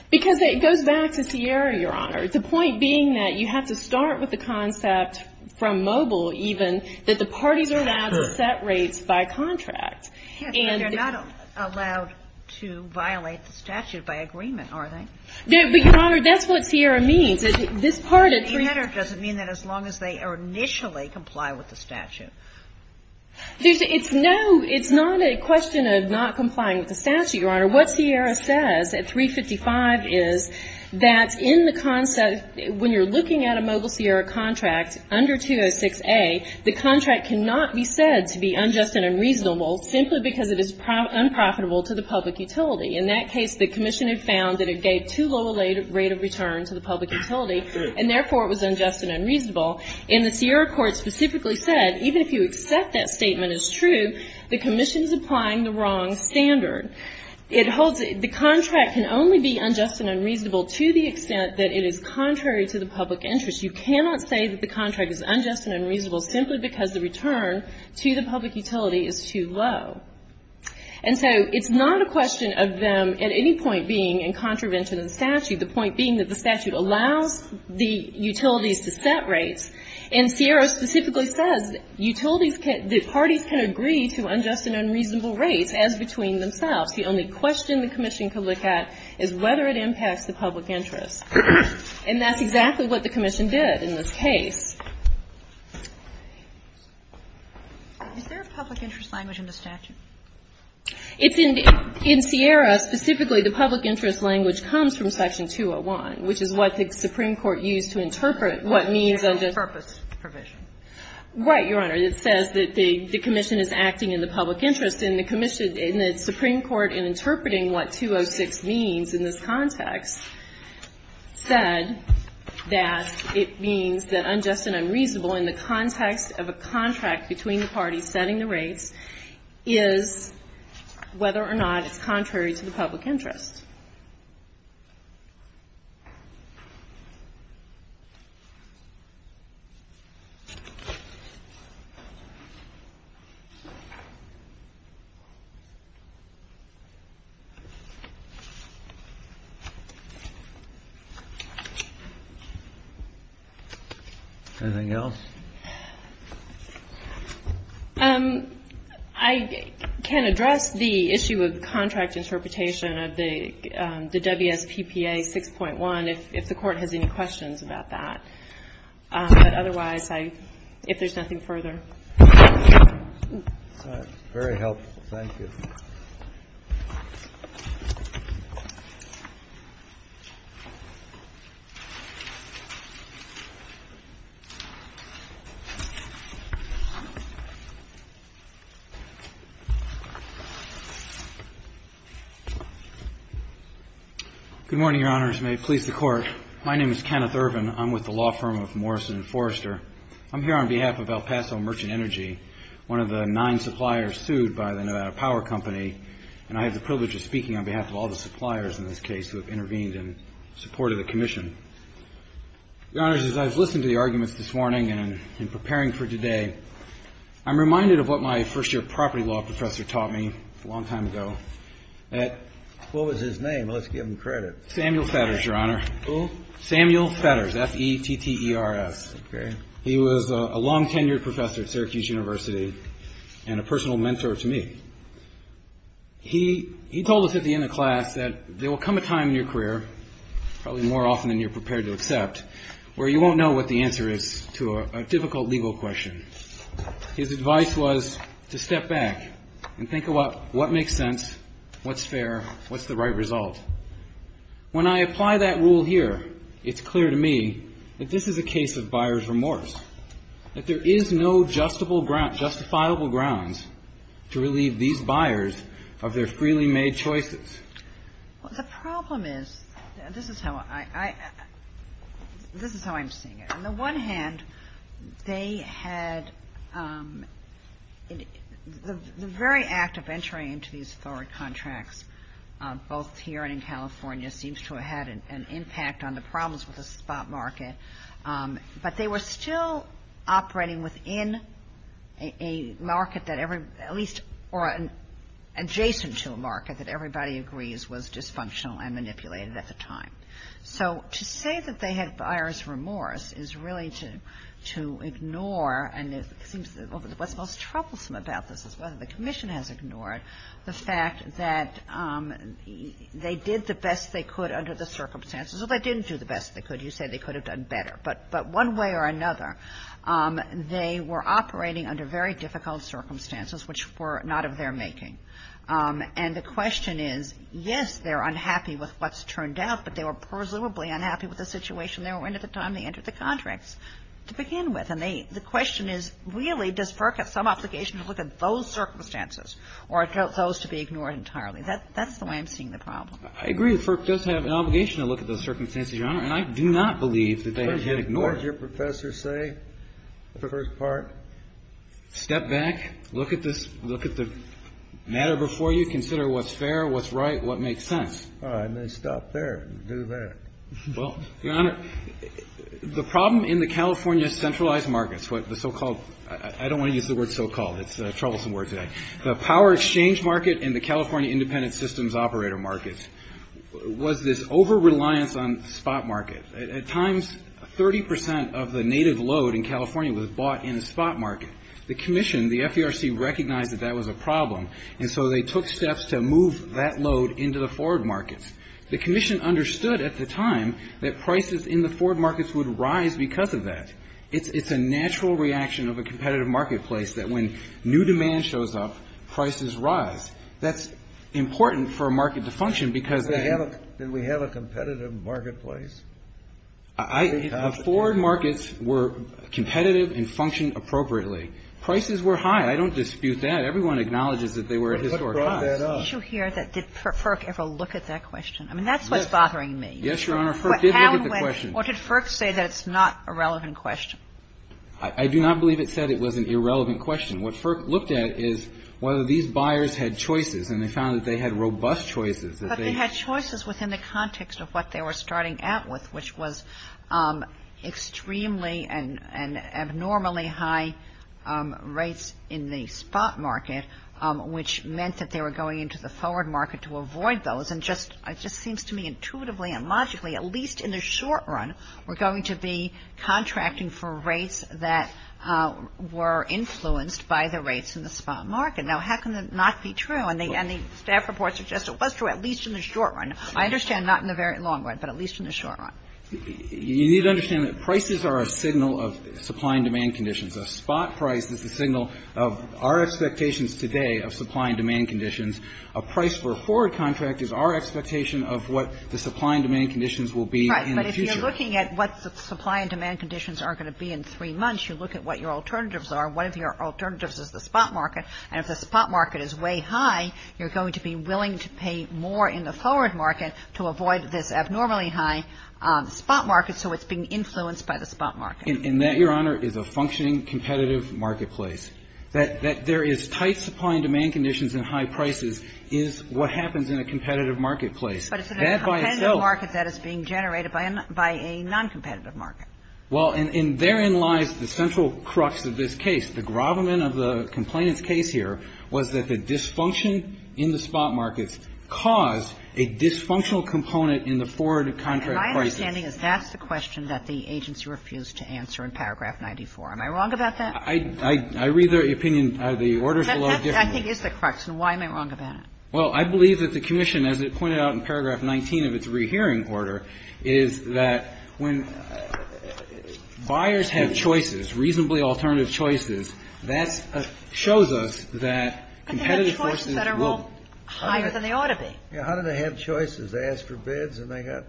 Because it goes back to Sierra, Your Honor. The point being that you have to start with the concept from Mobile, even, that the parties are allowed to set rates by contract. Yes, but they're not allowed to violate the statute by agreement, are they? No, but, Your Honor, that's what Sierra means. This part of the- It doesn't mean that as long as they initially comply with the statute. Your Honor, what Sierra says at 355 is that in the concept, when you're looking at a Mobile Sierra contract under 206A, the contract cannot be said to be unjust and unreasonable simply because it is unprofitable to the public utility. In that case, the Commission has found that it gave too low a rate of return to the public utility, and, therefore, it was unjust and unreasonable. And the Sierra court specifically said, even if you accept that statement as true, the Commission is applying the wrong standard. The contract can only be unjust and unreasonable to the extent that it is contrary to the public interest. You cannot say that the contract is unjust and unreasonable simply because the return to the public utility is too low. And so it's not a question of them at any point being in contravention of the statute, the point being that the statute allows the utilities to set rates, And Sierra specifically says that parties can agree to unjust and unreasonable rates as between themselves. The only question the Commission can look at is whether it impacts the public interest. And that's exactly what the Commission did in this case. Is there a public interest language in the statute? In Sierra, specifically, the public interest language comes from Section 201, which is what the Supreme Court used to interpret what means of the purpose provision. Right, Your Honor. It says that the Commission is acting in the public interest, and the Supreme Court, in interpreting what 206 means in this context, said that it means that unjust and unreasonable in the context of a contract between the parties setting the rates is, whether or not, contrary to the public interest. Anything else? I can address the issue of contract interpretation of the WFPPA 6.1 if the Court has any questions about that. But otherwise, if there's nothing further. Very helpful. Thank you. Good morning, Your Honors. May it please the Court. My name is Kenneth Irvin. I'm with the law firm of Morrison and Forrester. I'm here on behalf of El Paso Merchant Energy, one of the nine suppliers sued by the Nevada Power Company. And I have the privilege of speaking on behalf of all the suppliers in this case who have intervened in support of the Commission. Your Honors, as I was listening to the argument this morning and in preparing for today, I'm reminded of what my first-year property law professor taught me a long time ago. What was his name? Let's give him credit. Samuel Fetters, Your Honor. Who? Samuel Fetters. That's E-T-T-E-R-F. He was a long-tenured professor at Syracuse University and a personal mentor to me. He told us at the end of class that there will come a time in your career, probably more often than you're prepared to accept, where you won't know what the answer is to a difficult legal question. His advice was to step back and think about what makes sense, what's fair, what's the right result. When I apply that rule here, it's clear to me that this is a case of buyer's remorse, that there is no justifiable grounds to relieve these buyers of their freely made choices. The problem is, this is how I understand it. On the one hand, they had the very act of entering into these forward contracts, both here and in California, seems to have had an impact on the problems with the spot market, but they were still operating within a market that every, at least an adjacent to a market that everybody agrees was dysfunctional and manipulated at the time. So, to say that they had buyer's remorse is really to ignore, and what's most troublesome about this is whether the commission has ignored the fact that they did the best they could under the circumstances. Well, they didn't do the best they could. You said they could have done better, but one way or another, they were operating under very difficult circumstances which were not of their making. And the question is, yes, they're unhappy with what's turned out, but they were presumably unhappy with the situation they were in at the time they entered the contracts. To begin with, the question is, really, does FERC have some obligation to look at those circumstances or those to be ignored entirely? That's the way I'm seeing the problem. I agree. FERC does have an obligation to look at those circumstances, Your Honor, and I do not believe that they have been ignored. What does your professor say for the first part? Step back. Look at the matter before you. Consider what's fair, what's right, what makes sense. All right. And then stop there and do that. Well, Your Honor, the problem in the California centralized markets, what the so-called, I don't want to use the word so-called. It's a troublesome word today. The power exchange market and the California independent systems operator markets was this over-reliance on spot markets. At times, 30% of the native load in California was bought in a spot market. The commission, the FERC, recognized that that was a problem, and so they took steps to move that load into the forward markets. The commission understood at the time that prices in the forward markets would rise because of that. It's a natural reaction of a competitive marketplace that when new demand shows up, prices rise. That's important for a market to function because then we have a competitive marketplace. Forward markets were competitive and functioned appropriately. Prices were high. I don't dispute that. Everyone acknowledges that they were historically high. Did FERC ever look at that question? I mean, that's what's bothering me. Yes, Your Honor, FERC did look at the question. Or did FERC say that it's not a relevant question? I do not believe it said it was an irrelevant question. What FERC looked at is whether these buyers had choices, and they found that they had robust choices. But they had choices within the context of what they were starting out with, which was extremely and abnormally high rates in the spot market, which meant that they were going into the forward market to avoid those. It just seems to me intuitively and logically, at least in the short run, we're going to be contracting for rates that were influenced by the rates in the spot market. Now, how can that not be true? And the staff report suggests it was true, at least in the short run. I understand not in the very long run, but at least in the short run. You need to understand that prices are a signal of supply and demand conditions. A spot price is a signal of our expectations today of supply and demand conditions. A price for a forward contract is our expectation of what the supply and demand conditions will be in the future. Right, but if you're looking at what the supply and demand conditions are going to be in three months, you look at what your alternatives are. One of your alternatives is the spot market, and if the spot market is way high, you're going to be willing to pay more in the forward market to avoid this abnormally high spot market, so it's being influenced by the spot market. And that, Your Honor, is a functioning competitive marketplace. That there is tight supply and demand conditions and high prices is what happens in a competitive marketplace. But it's a competitive market that is being generated by a non-competitive market. Well, and therein lies the central crux of this case. The grovelment of the complainant's case here was that the dysfunction in the spot market caused a dysfunctional component in the forward contract prices. My understanding is that's the question that the agency refused to answer in paragraph 94. Am I wrong about that? I read the opinion. The order's a little different. I think it's the question. Why am I wrong about it? Well, I believe that the commission, as it pointed out in paragraph 19 of its rehearing order, is that when buyers have choices, reasonably alternative choices, that shows us that competitive... But they had choices that are a little higher than they ought to be. Yeah, how did they have choices? They asked for bids and they got...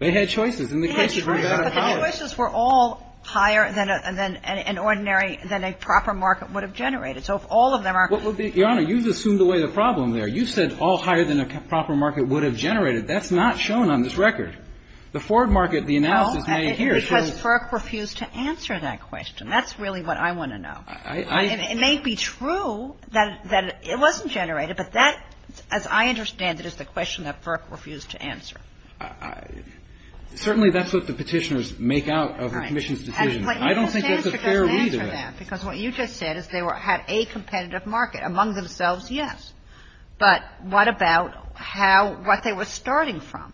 They had choices, and the cases were better. But the choices were all higher than an ordinary, than a proper market would have generated. So if all of them are... Your Honor, you've assumed away the problem there. You said all higher than a proper market would have generated. That's not shown on this record. The forward market, the analysis made here shows... No, I think it's because FERC refused to answer that question. That's really what I want to know. It may be true that it wasn't generated, but that, as I understand it, is the question that FERC refused to answer. Certainly that's what the petitioners make out of the commission's decision. I don't think it's a fair read of that. Because what you just said is they had a competitive market among themselves, yes. But what about what they were starting from?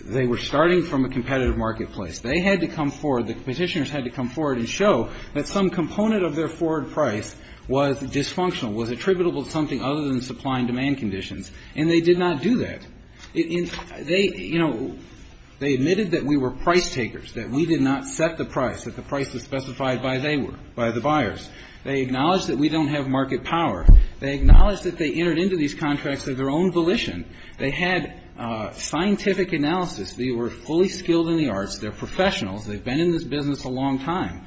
They were starting from a competitive marketplace. They had to come forward, the petitioners had to come forward and show that some component of their forward price was dysfunctional, was attributable to something other than supply and demand conditions, and they did not do that. They, you know, they admitted that we were price takers, that we did not set the price, that the price was specified by they were, by the buyers. They acknowledged that we don't have market power. They acknowledged that they entered into these contracts with their own volition. They had scientific analysis. They were fully skilled in the arts. They're professionals. They've been in this business a long time.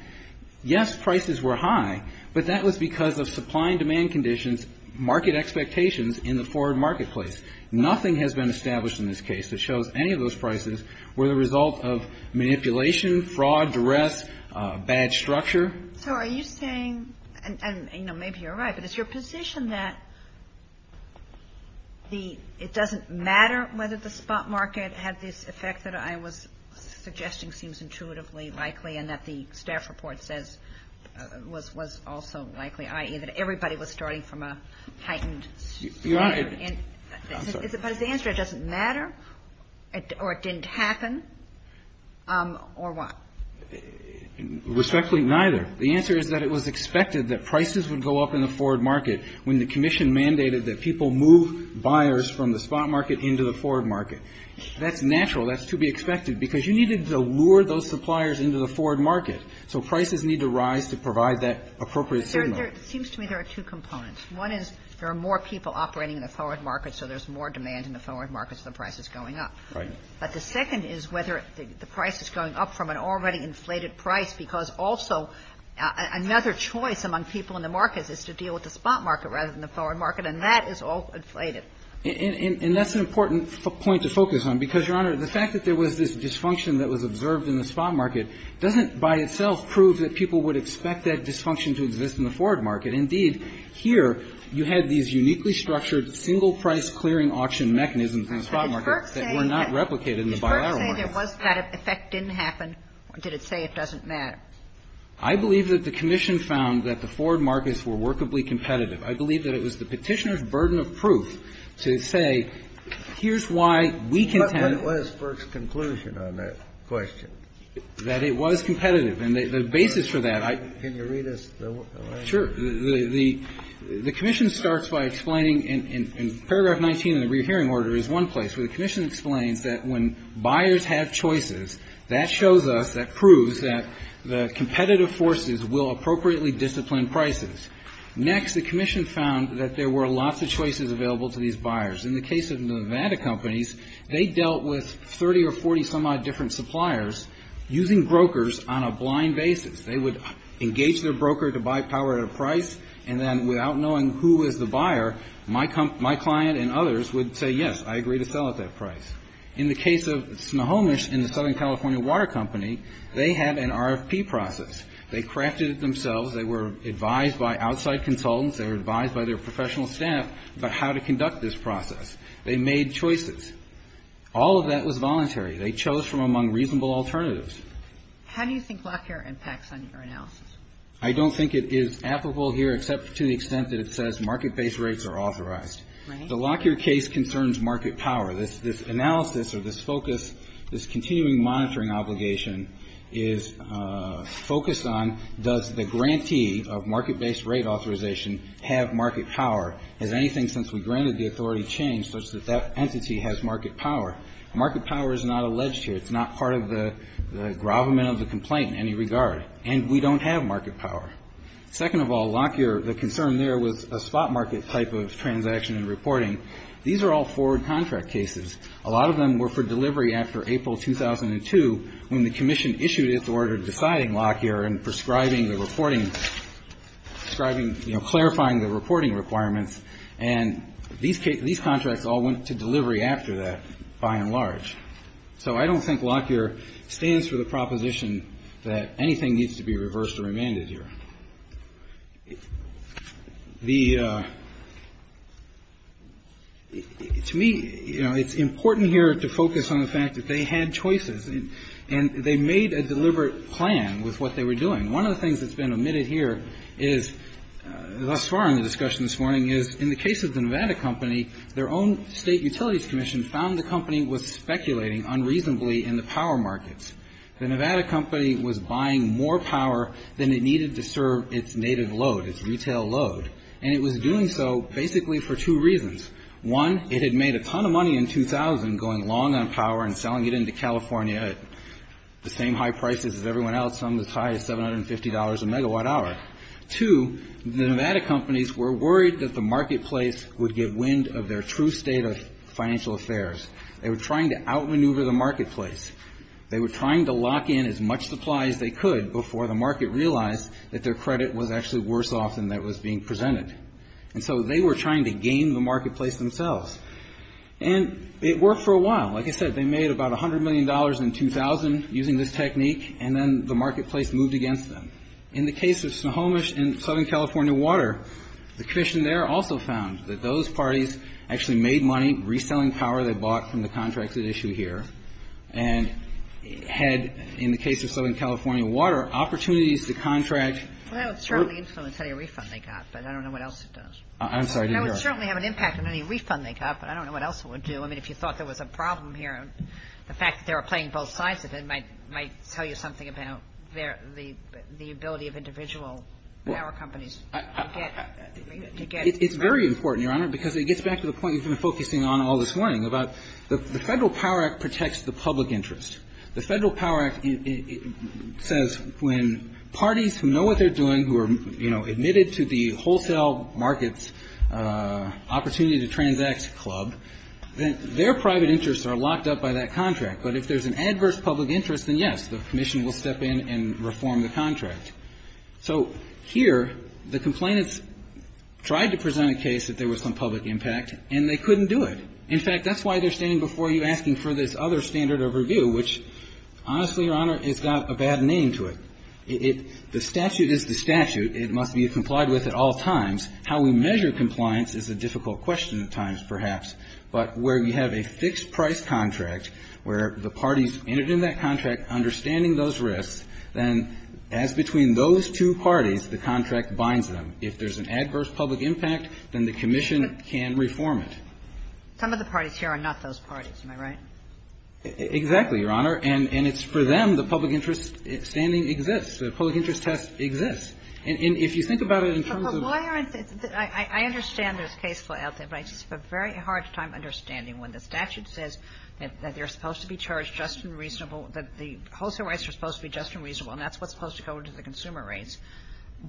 Yes, prices were high, but that was because of supply and demand conditions, market expectations in the forward marketplace. Nothing has been established in this case that shows any of those prices were the result of manipulation, fraud, duress, bad structure. So are you saying, and, you know, maybe you're right, but it's your position that the, it doesn't matter whether the spot market had this effect that I was suggesting seems intuitively likely and that the staff report says was also likely, i.e., that everybody was starting from a heightened, I'm sorry. Because the answer is it doesn't matter or it didn't happen or what? Respectfully, neither. The answer is that it was expected that prices would go up in the forward market when the commission mandated that people move buyers from the spot market into the forward market. That's natural. That's to be expected because you needed to lure those suppliers into the forward market. So prices need to rise to provide that appropriate signal. It seems to me there are two components. One is there are more people operating in the forward market, so there's more demand in the forward market, so the price is going up. But the second is whether the price is going up from an already inflated price because also another choice among people in the market is to deal with the spot market rather than the forward market, and that is also inflated. And that's an important point to focus on because, Your Honor, the fact that there was this dysfunction that was observed in the spot market doesn't by itself prove that people would expect that dysfunction to exist in the forward market. Indeed, here you have these uniquely structured single-price clearing auction mechanisms in the spot market that were not replicated in the bilateral market. Did Burke say that that effect didn't happen, or did it say it doesn't matter? I believe that the commission found that the forward markets were workably competitive. I believe that it was the petitioner's burden of proof to say, here's why we can have – What was Burke's conclusion on that question? That it was competitive, and the basis for that – Can you read us the – Sure. The commission starts by explaining in paragraph 19 of the re-hearing order is one place where the commission explains that when buyers have choices, that shows us, that proves that the competitive forces will appropriately discipline prices. Next, the commission found that there were lots of choices available to these buyers. In the case of Nevada companies, they dealt with 30 or 40-some-odd different suppliers using brokers on a blind basis. They would engage their broker to buy power at a price, and then without knowing who was the buyer, my client and others would say, yes, I agree to sell at that price. In the case of Snohomish and the Southern California Water Company, they had an RFP process. They crafted it themselves. They were advised by outside consultants. They were advised by their professional staff about how to conduct this process. They made choices. All of that was voluntary. They chose from among reasonable alternatives. How do you think Lockyer impacts on your analysis? I don't think it is applicable here, except to the extent that it says market-based rates are authorized. Right. The Lockyer case concerns market power. This analysis or this focus, this continuing monitoring obligation is focused on, does the grantee of market-based rate authorization have market power? Has anything since we granted the authority changed such that that entity has market power? Market power is not alleged here. It's not part of the gravamen of the complaint in any regard, and we don't have market power. Second of all, Lockyer, the concern there was a spot market type of transaction and reporting. These are all forward contract cases. A lot of them were for delivery after April 2002, when the commission issued its order defying Lockyer and prescribing the reporting, prescribing, you know, clarifying the reporting requirements, and these contracts all went to delivery after that, by and large. So I don't think Lockyer stands for the proposition that anything needs to be reversed or remanded here. To me, you know, it's important here to focus on the fact that they had choices, and they made a deliberate plan with what they were doing. One of the things that's been omitted here is, thus far in the discussion this morning, is in the case of the Nevada company, their own state utilities commission found the company was speculating unreasonably in the power markets. The Nevada company was buying more power than it needed to serve its native load, its retail load, and it was doing so basically for two reasons. One, it had made a ton of money in 2000 going long on power and selling it into California at the same high prices as everyone else on the tie of $750 a megawatt hour. Two, the Nevada companies were worried that the marketplace would get wind of their true state of financial affairs. They were trying to outmaneuver the marketplace. They were trying to lock in as much supply as they could before the market realized that their credit was actually worse off than that was being presented. And so they were trying to game the marketplace themselves. And it worked for a while. Like I said, they made about $100 million in 2000 using this technique, and then the marketplace moved against them. In the case of Snohomish and Southern California Water, the commission there also found that those parties actually made money reselling power they bought from the contracts at issue here and had, in the case of Southern California Water, opportunities to contract. Well, it certainly is going to pay a refund they got, but I don't know what else it does. I'm sorry, go ahead. That would certainly have an impact on any refund they got, but I don't know what else it would do. I mean, if you thought there was a problem here, the fact that they were playing both sides of it might tell you something about the ability of individual power companies to get. It's very important, Your Honor, because it gets back to the point you've been focusing on all this morning about the Federal Power Act protects the public interest. The Federal Power Act says when parties who know what they're doing, who are admitted to the hotel markets opportunity to transact club, then their private interests are locked up by that contract. But if there's an adverse public interest, then yes, the commission will step in and reform the contract. So here, the complainants tried to present a case that there was some public impact, and they couldn't do it. In fact, that's why they're standing before you asking for this other standard of review, which, honestly, Your Honor, it's got a bad name to it. The statute is the statute. It must be complied with at all times. How we measure compliance is a difficult question at times, perhaps. But where you have a fixed-price contract where the parties entered in that contract understanding those risks, then as between those two parties, the contract binds them. If there's an adverse public impact, then the commission can reform it. Some of the parties here are not those parties. Am I right? Exactly, Your Honor. And it's for them the public interest standing exists. The public interest test exists. And if you think about it in terms of... I understand this case well, but I just have a very hard time understanding. When the statute says that they're supposed to be charged just and reasonable, that the wholesale rights are supposed to be just and reasonable, and that's what's supposed to go into the consumer rates,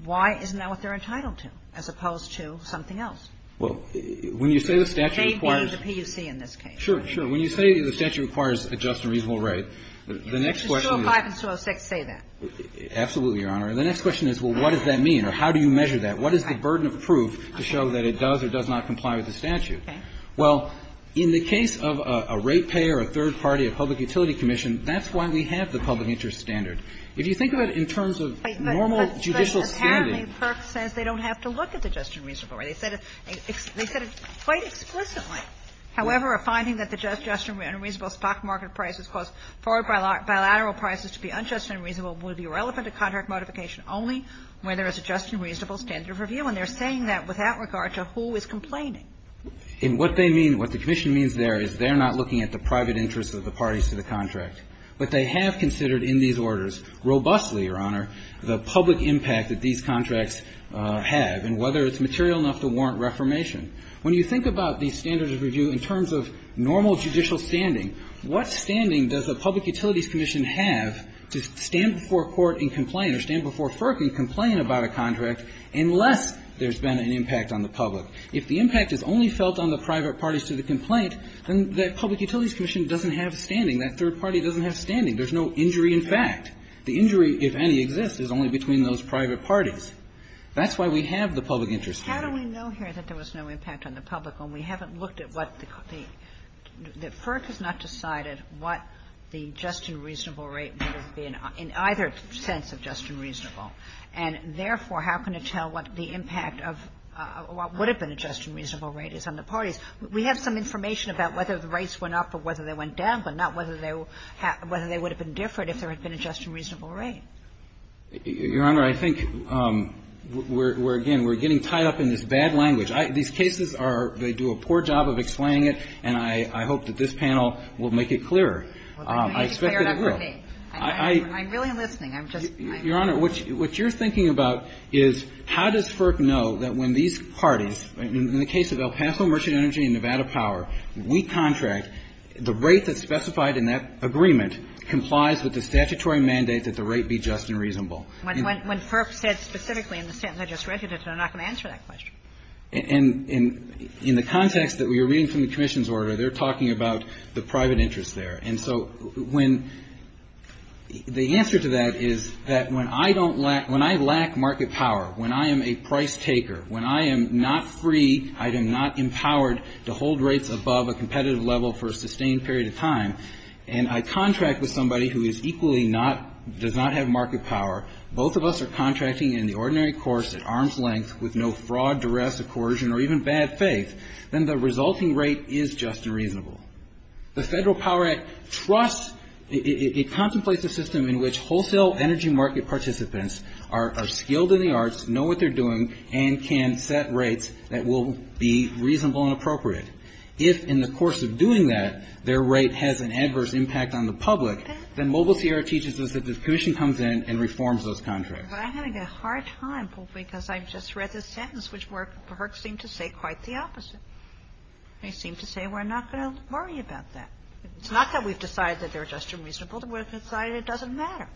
why isn't that what they're entitled to as opposed to something else? Well, when you say the statute requires... They gave the PUC in this case. Sure, sure. When you say the statute requires a just and reasonable rate, the next question is... 205 and 206 say that. Absolutely, Your Honor. And the next question is, well, what does that mean? Or how do you measure that? What is the burden of proof to show that it does or does not comply with the statute? Well, in the case of a rate payer, a third party, a public utility commission, that's why we have the public interest standard. If you think of it in terms of normal judicial standing... Apparently, PUC says they don't have to look at the just and reasonable rate. They said it quite explicitly. However, a finding that the just and reasonable stock market prices cause forward bilateral prices to be unjust and reasonable will be relevant to contract modification only when there is a just and reasonable standard of review. And they're saying that without regard to who is complaining. And what they mean, what the commission means there, is they're not looking at the private interest of the parties to the contract. But they have considered in these orders, robustly, Your Honor, the public impact that these contracts have and whether it's material enough to warrant reformation. When you think about these standards of review in terms of normal judicial standing, what standing does a public utilities commission have to stand before court and complain or stand before FERC and complain about a contract unless there's been an impact on the public? If the impact is only felt on the private parties to the complaint, then that public utilities commission doesn't have standing. That third party doesn't have standing. There's no injury in fact. The injury, if any, exists. It's only between those private parties. That's why we have the public interest standard. How do we know here that there was no impact on the public when we haven't looked at what the FERC has not decided what the just and reasonable rate would have been in either sense of just and reasonable? And therefore, how can it tell what the impact of what would have been a just and reasonable rate is on the parties? We have some information about whether the rates went up or whether they went down, but not whether they would have been different if there had been a just and reasonable rate. Your Honor, I think we're, again, we're getting tied up in this bad language. These cases are, they do a poor job of explaining it, and I hope that this panel will make it clearer. I expect it will. I'm really listening. Your Honor, what you're thinking about is how does FERC know that when these parties, in the case of El Paso Merchant Energy and Nevada Power, we contract the rate that's specified in that agreement complies with the statutory mandate that the rate be just and reasonable? When FERC said specifically in the Statutory Regulation, I'm not going to answer that question. And in the context that we are reading from the Commission's order, they're talking about the private interest there. And so when, the answer to that is that when I don't, when I lack market power, when I am a price taker, when I am not free, I am not empowered to hold rates above a competitive level for a sustained period of time, and I contract with somebody who is equally not, does not have market power, both of us are contracting in the ordinary course, at arm's length, with no fraud, duress, or coercion, or even bad faith, then the resulting rate is just and reasonable. The Federal Power Act trusts, it contemplates a system in which wholesale energy market participants are skilled in the arts, know what they're doing, and can set rates that will be reasonable and appropriate. If in the course of doing that, their rate has an adverse impact on the public, then Mobile TR teaches us that the Commission comes in and reforms those contracts. I'm having a hard time, because I just read this sentence, which the works seem to say quite the opposite. They seem to say we're not going to worry about that. It's not that we've decided that they're just and reasonable, we've decided it doesn't matter.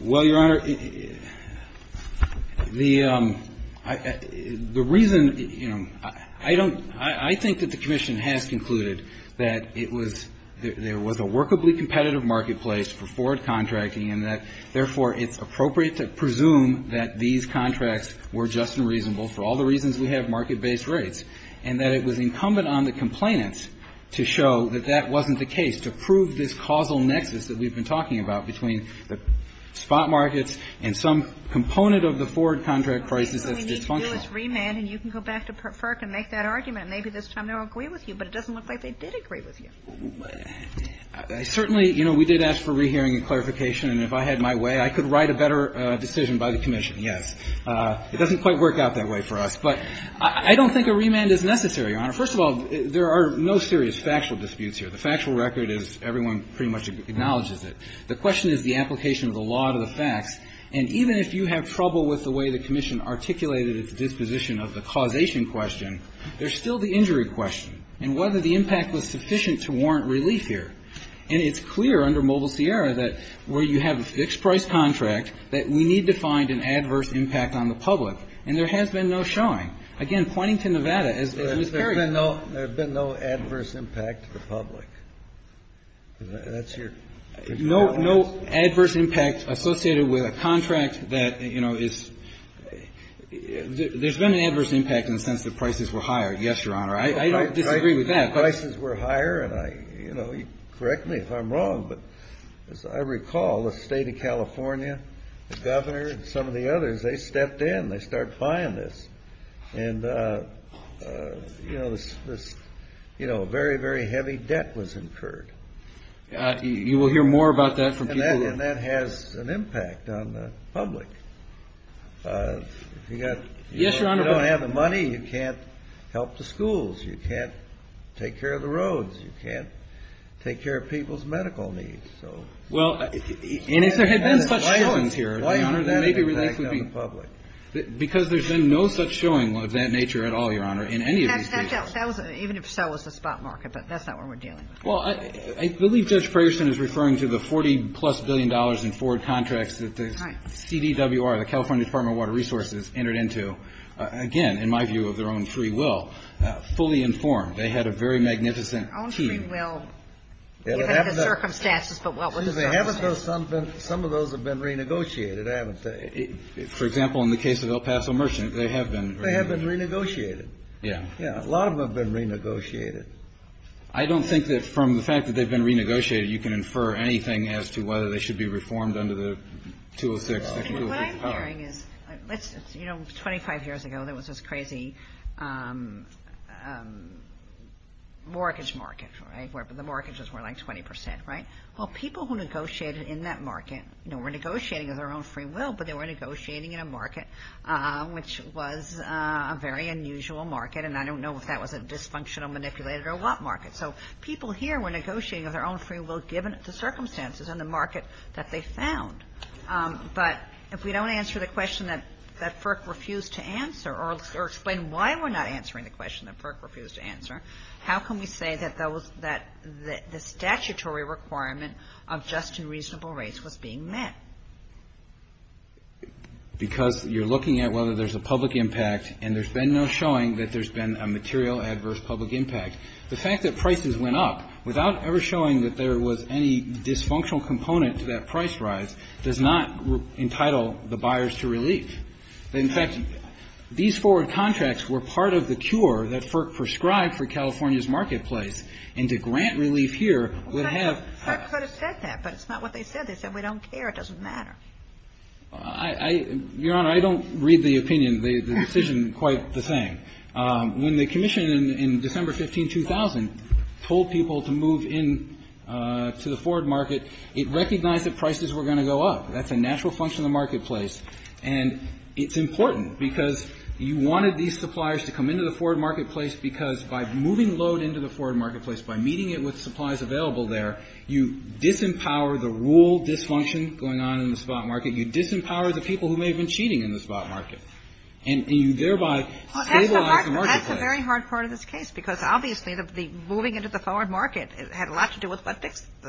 Well, Your Honor, the reason, you know, I don't, I think that the Commission has concluded that it was, there was a workably competitive marketplace for forward contracting, and that, therefore, it's appropriate to presume that these contracts were just and reasonable for all the reasons we have market-based rates, and that it was incumbent on the complainant to show that that wasn't the case, to prove this causal nexus that we've been talking about between the spot markets and some component of the forward contract prices that they function on. Well, maybe there was remand, and you can go back to FERC and make that argument, and maybe this time they'll agree with you, but it doesn't look like they did agree with you. Certainly, you know, we did ask for rehearing and clarification, and if I had my way, I could write a better decision by the Commission, yes. It doesn't quite work out that way for us, but I don't think a remand is necessary, Your Honor. First of all, there are no serious factual disputes here. The factual record is everyone pretty much acknowledges it. The question is the application of the law to the facts, and even if you have trouble with the way the Commission articulated its disposition of the causation question, there's still the injury question, and whether the impact was sufficient to warrant relief here. And it's clear under Mobile Sierra that where you have a fixed-price contract, that we need to find an adverse impact on the public, and there has been no showing. Again, pointing to Nevada as the imperative. There's been no adverse impact to the public. No adverse impact associated with a contract that, you know, is – there's been an adverse impact in the sense that prices were higher, yes, Your Honor. I didn't agree with that. Prices were higher, and, you know, correct me if I'm wrong, but as I recall, the state of California, the governor and some of the others, they stepped in. They started filing this, and, you know, a very, very heavy debt was incurred. You will hear more about that from people. And that has an impact on the public. If you don't have the money, you can't help the schools. You can't take care of the roads. You can't take care of people's medical needs. Well, and if there had been such showings here, Your Honor, there may be – because there's been no such showing of that nature at all, Your Honor, in any of these cases. Even if so, it's a spot market, but that's not what we're dealing with. Well, I believe Judge Ferguson is referring to the $40-plus billion in forward contracts that the CDWR, the California Department of Water Resources, entered into, again, in my view, of their own free will, fully informed. They had a very magnificent team. Well, given the circumstances, but what was there? Excuse me. Some of those have been renegotiated, I would say. For example, in the case of El Paso Merchant, they have been. They have been renegotiated. Yeah. Yeah, a lot of them have been renegotiated. I don't think that from the fact that they've been renegotiated, you can infer anything as to whether they should be reformed under Section 206. What I'm hearing is, you know, 25 years ago there was this crazy mortgage market, right, where the mortgages were like 20%, right? Well, people who negotiated in that market were negotiating of their own free will, but they were negotiating in a market which was a very unusual market, and I don't know if that was a dysfunctional, manipulated, or a lot market. So people here were negotiating of their own free will, given the circumstances and the market that they found. But if we don't answer the question that FERC refused to answer, or explain why we're not answering the question that FERC refused to answer, how can we say that the statutory requirement of just and reasonable rates was being met? Because you're looking at whether there's a public impact, and there's been no showing that there's been a material adverse public impact. The fact that prices went up, without ever showing that there was any dysfunctional component to that price rise, does not entitle the buyers to relief. In fact, these forward contracts were part of the cure that FERC prescribed for California's marketplace, and to grant relief here would have- FERC could have said that, but it's not what they said. They said, we don't care, it doesn't matter. Your Honor, I don't read the opinion, the decision quite the same. When the commission, in December 15, 2000, told people to move into the forward market, it recognized that prices were going to go up. That's a natural function of the marketplace, and it's important because you wanted these suppliers to come into the forward marketplace because by moving load into the forward marketplace, by meeting it with supplies available there, you disempower the rule dysfunction going on in the spot market. You disempower the people who may have been cheating in the spot market, and you thereby stabilize the marketplace. That's a very hard part of this case, because obviously moving into the forward market had a lot to do with the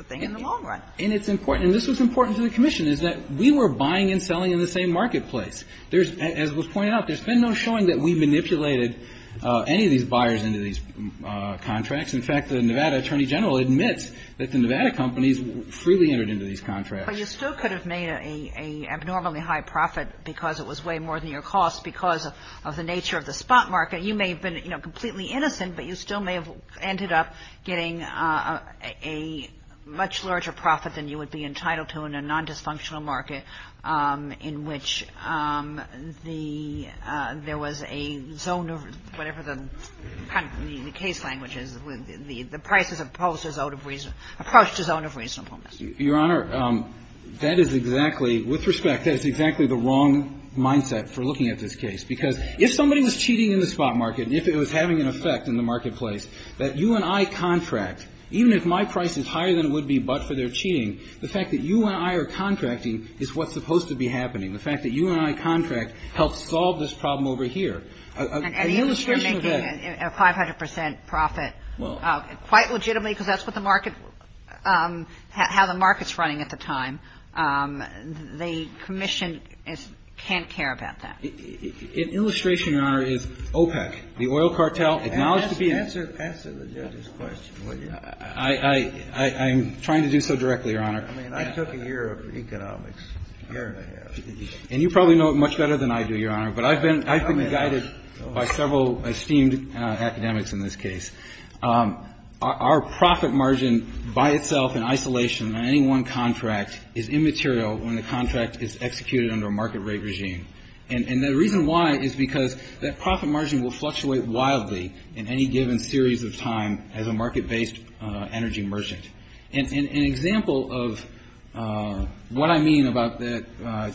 thing in the long run. And it's important, and this was important to the commission, is that we were buying and selling in the same marketplace. As was pointed out, there's been no showing that we manipulated any of these buyers into these contracts. In fact, the Nevada Attorney General admits that the Nevada companies freely entered into these contracts. But you still could have made an abnormally high profit because it was way more than your cost because of the nature of the spot market. You may have been completely innocent, but you still may have ended up getting a much larger profit than you would be entitled to in a non-dysfunctional market in which there was a zone of whatever the case language is. The price has approached a zone of reasonable risk. Your Honor, that is exactly, with respect, that is exactly the wrong mindset for looking at this case. Because if somebody was cheating in the spot market, and if it was having an effect in the marketplace, that you and I contract, even if my price is higher than it would be but for their cheating, the fact that you and I are contracting is what's supposed to be happening. The fact that you and I contract helps solve this problem over here. A 500 percent profit, quite legitimately, because that's how the market's running at the time. The commission can't care about that. An illustration, Your Honor, is OPEC, the oil cartel. Answer the judge's question, will you? I'm trying to do so directly, Your Honor. I mean, I took a year of economics here. But I've been guided by several esteemed academics in this case. Our profit margin by itself in isolation on any one contract is immaterial when the contract is executed under a market rate regime. And the reason why is because that profit margin will fluctuate wildly in any given series of time as a market-based energy merchant. An example of what I mean about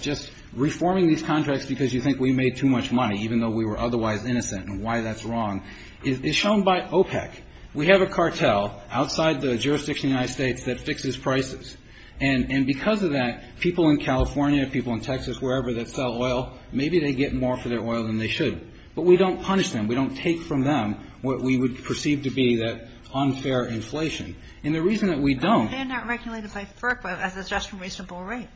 just reforming these contracts because you think we made too much money, even though we were otherwise innocent and why that's wrong, is shown by OPEC. We have a cartel outside the jurisdiction of the United States that fixes prices. And because of that, people in California, people in Texas, wherever, that sell oil, maybe they get more for their oil than they should. But we don't punish them. We don't take from them what we would perceive to be that unfair inflation. And the reason that we don't... They're not regulated by FERPA as a just and reasonable rate.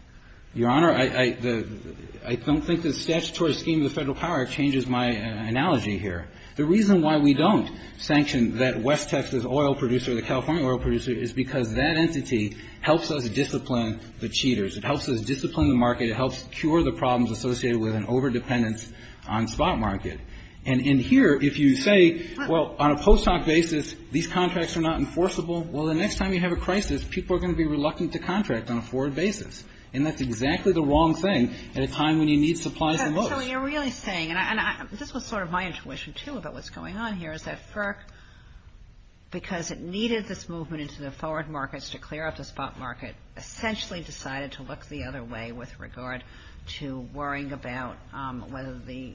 Your Honor, I don't think the statutory scheme of the federal power changes my analogy here. The reason why we don't sanction that West Texas oil producer, the California oil producer, is because that entity helps us discipline the cheaters. It helps us discipline the market. It helps cure the problems associated with an over-dependence on spot market. And in here, if you say, well, on a post-hoc basis, these contracts are not enforceable, well, the next time you have a crisis, people are going to be reluctant to contract on a forward basis. And that's exactly the wrong thing at a time when you need supplies and loads. So you're really saying, and this was sort of my intuition too about what's going on here, is that FERC, because it needed this movement into the forward markets to clear up the spot market, essentially decided to look the other way with regard to worrying about whether the...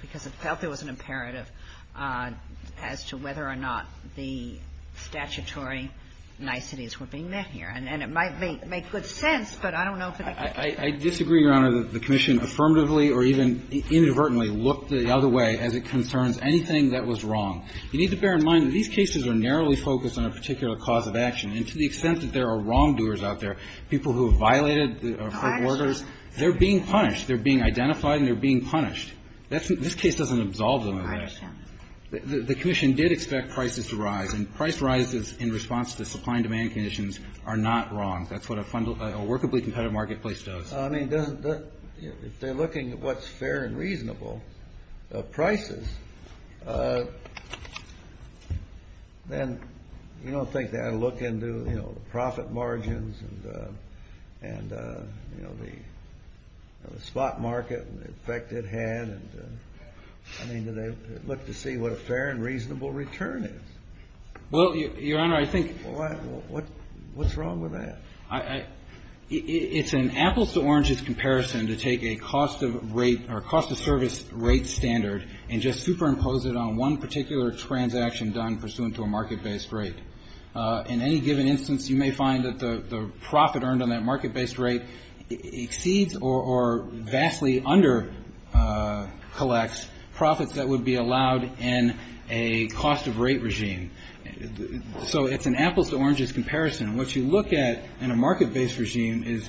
Because it felt there was an imperative as to whether or not the statutory niceties were being met here. And it might make good sense, but I don't know if it... I disagree, Your Honor, that the Commission affirmatively or even inadvertently looked the other way as it concerns anything that was wrong. You need to bear in mind that these cases are narrowly focused on a particular cause of action. And to the extent that there are wrongdoers out there, people who have violated the court orders, they're being punished. They're being identified and they're being punished. This case doesn't absolve them of that. The Commission did expect prices to rise, and price rises in response to supply and demand conditions are not wrong. That's what a workably competitive marketplace does. I mean, if they're looking at what's fair and reasonable prices, then you don't think they ought to look into profit margins and the spot market effect it had. I mean, look to see what a fair and reasonable return is. Well, Your Honor, I think... What's wrong with that? It's an apples-to-oranges comparison to take a cost-of-service rate standard and just superimpose it on one particular transaction done pursuant to a market-based rate. In any given instance, you may find that the profit earned on that market-based rate exceeds or vastly under-collects profits that would be allowed in a cost-of-rate regime. So it's an apples-to-oranges comparison. And what you look at in a market-based regime is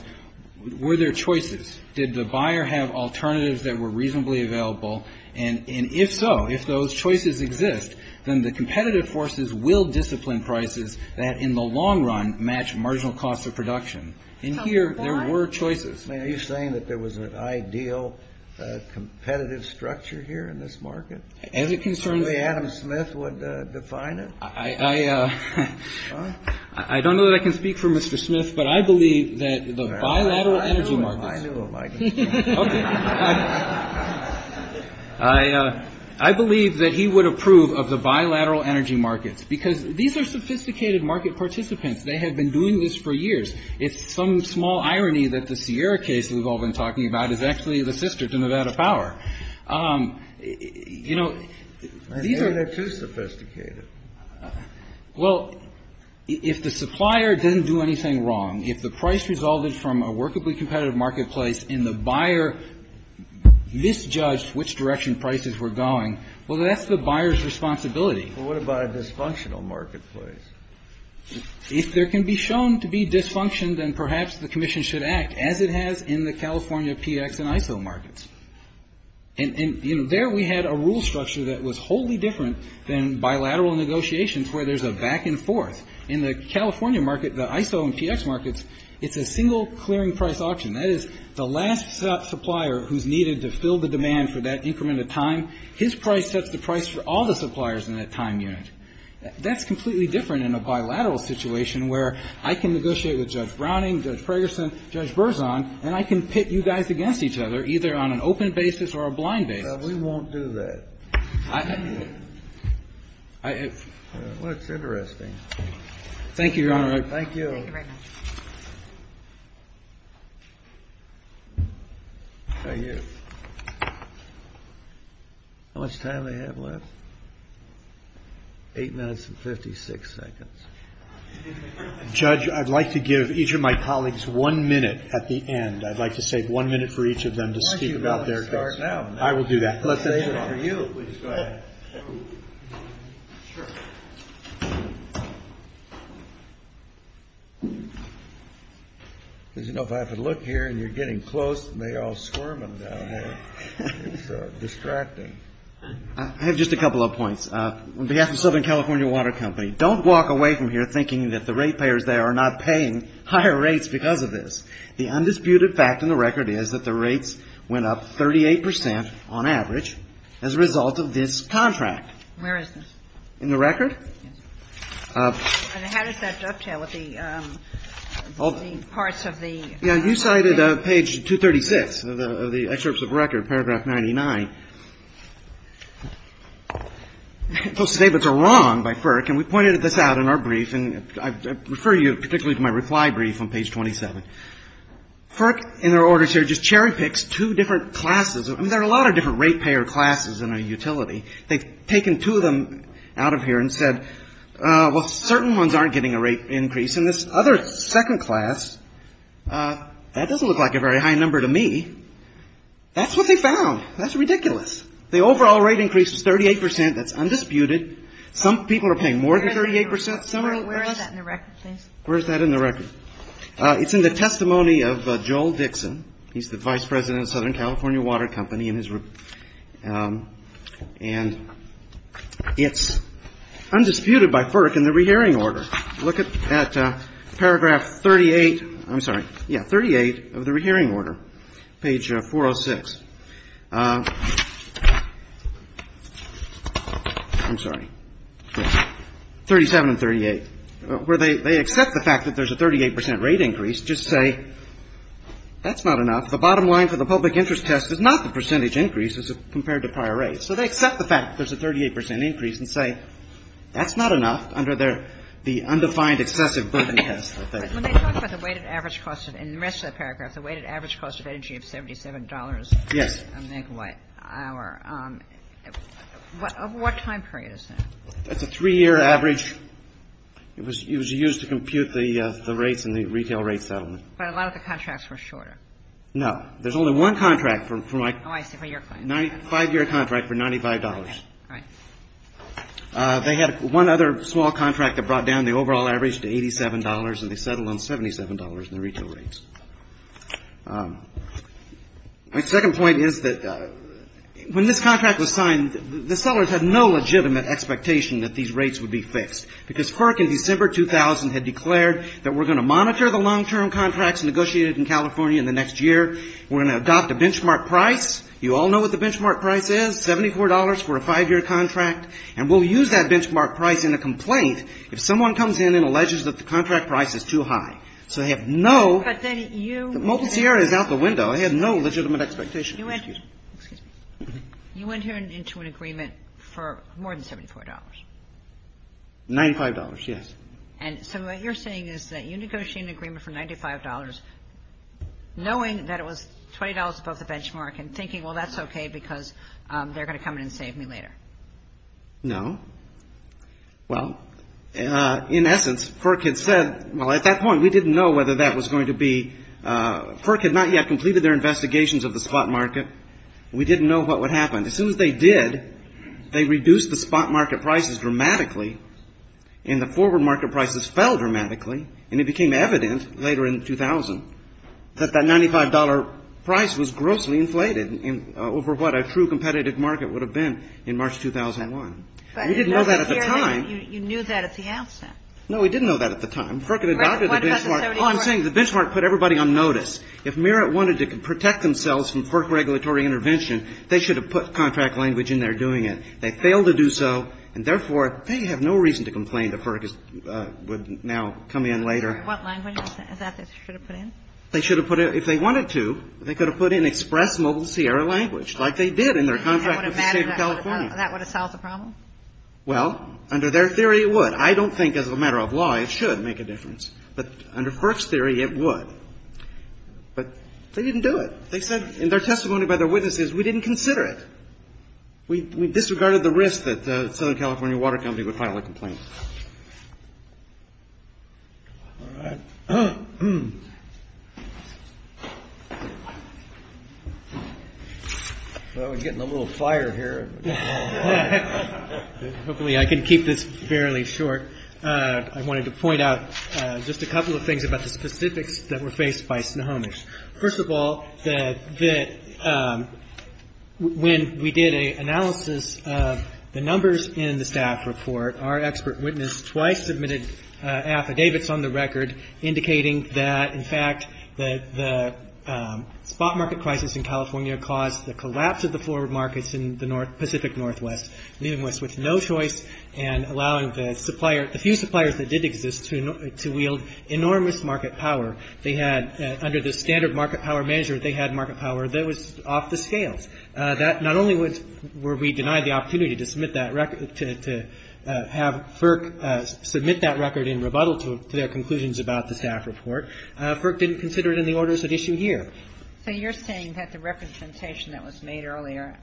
were there choices? Did the buyer have alternatives that were reasonably available? And if so, if those choices exist, then the competitive forces will discipline prices that in the long run match marginal costs of production. And here, there were choices. Are you saying that there was an ideal competitive structure here in this market? As it concerns... The way Adam Smith would define it? I don't know that I can speak for Mr. Smith, but I believe that the bilateral energy market... I believe that he would approve of the bilateral energy market because these are sophisticated market participants. They have been doing this for years. It's some small irony that the Sierra case we've all been talking about is actually the sister to Nevada Power. I think they're too sophisticated. Well, if the supplier didn't do anything wrong, if the price resulted from a workably competitive marketplace and the buyer misjudged which direction prices were going, well, that's the buyer's responsibility. But what about a dysfunctional marketplace? If there can be shown to be dysfunction, then perhaps the commission should act as it has in the California PX and ISO markets. And there we had a rule structure that was wholly different than bilateral negotiations where there's a back and forth. In the California market, the ISO and PX markets, it's a single clearing price auction. That is the last supplier who's needed to fill the demand for that increment of time, his price sets the price for all the suppliers in that time unit. That's completely different in a bilateral situation where I can negotiate with Judge Browning, Judge Ferguson, Judge Berzon, and I can pit you guys against each other either on an open basis or a blind basis. We won't do that. Well, it's interesting. Thank you, Your Honor. Thank you. Thank you. How much time do I have left? Eight minutes and 56 seconds. Judge, I'd like to give each of my colleagues one minute at the end. I'd like to save one minute for each of them to speak about their case. I will do that. I'd like to save it for you. You know, if I have to look here and you're getting close, and they're all squirming down there, it's distracting. I have just a couple of points. On behalf of Southern California Water Company, don't walk away from here thinking that the rate payers there are not paying higher rates because of this. The undisputed fact in the record is that the rates went up 38% on average as a result of this contract. Where is this? In the record. Yes. And how does that dovetail with the parts of the record? Yeah, you cited page 236 of the excerpts of the record, paragraph 99. Those statements are wrong by FERC, and we pointed this out in our brief, and I refer you particularly to my reply brief on page 27. FERC, in their orders here, just cherry picks two different classes. I mean, there are a lot of different rate payer classes in a utility. They've taken two of them out of here and said, well, certain ones aren't getting a rate increase, and this other second class, that doesn't look like a very high number to me. That's what they found. That's ridiculous. The overall rate increase is 38%. That's undisputed. Some people are paying more than 38%. Where is that in the record? Where is that in the record? It's in the testimony of Joel Dixon. He's the vice president of Southern California Water Company. And it's undisputed by FERC in the rehearing order. Look at paragraph 38. I'm sorry. Yeah, 38 of the rehearing order, page 406. I'm sorry. 37 and 38, where they accept the fact that there's a 38% rate increase, just say that's not enough. The bottom line for the public interest test is not the percentage increase as compared to prior rates. So they accept the fact that there's a 38% increase and say that's not enough under the undefined excessive burden test. Let me talk about the weighted average cost. In the rest of that paragraph, the weighted average cost of energy is $77 an hour. What time period is that? That's a three-year average. It was used to compute the rates and the retail rate settlement. But a lot of the contracts were shorter. No. There's only one contract for my five-year contract for $95. They had one other small contract that brought down the overall average to $87, and they settled on $77 in the retail rates. My second point is that when this contract was signed, the sellers had no legitimate expectation that these rates would be fixed. Because FERC in December 2000 had declared that we're going to monitor the long-term contracts negotiated in California in the next year. We're going to adopt the benchmark price. You all know what the benchmark price is. It's $74 for a five-year contract. And we'll use that benchmark price in a complaint if someone comes in and alleges that the contract price is too high. So, I have no ____ out the window. I have no legitimate expectation. You went into an agreement for more than $74. $95, yes. And so, what you're saying is that you negotiated an agreement for $95, knowing that it was $20 above the benchmark and thinking, well, that's okay because they're going to come in and save me later. No. Well, in essence, FERC had said, well, at that point, we didn't know whether that was going to be ____. FERC had not yet completed their investigations of the spot market. We didn't know what would happen. As soon as they did, they reduced the spot market prices dramatically, and the forward market prices fell dramatically. And it became evident later in 2000 that that $95 price was grossly inflated over what a true competitive market would have been in March 2001. We didn't know that at the time. You knew that if he asked that. No, we didn't know that at the time. FERC had adopted the benchmark. Oh, I'm saying the benchmark put everybody on notice. If Merit wanted to protect themselves from FERC regulatory intervention, they should have put contract language in there doing it. They failed to do so, and therefore, they have no reason to complain that FERC would now come in later. What language is that they should have put in? If they wanted to, they could have put in express mobile Sierra language like they did in their contract with the state of California. That would have solved the problem? Well, under their theory, it would. I don't think as a matter of law it should make a difference. But under FERC's theory, it would. But they didn't do it. They said in their testimony by their witnesses, we didn't consider it. We disregarded the risk that the Southern California Water Company would file a complaint. We're getting a little fire here. Hopefully I can keep this fairly short. I wanted to point out just a couple of things about the specifics that were faced by Snohomish. First of all, when we did an analysis of the numbers in the staff report, our expert witness twice submitted affidavits on the record indicating that, in fact, the spot market crisis in California caused the collapse of the forward markets in the Pacific Northwest, meaning we switched no choice and allowing the few suppliers that did exist to wield enormous market power. They had, under the standard market power measure, they had market power that was off the scales. Not only were we denied the opportunity to have FERC submit that record in rebuttal to their conclusions about the staff report, FERC didn't consider it in the orders it issued here. So you're saying that the representation that was made earlier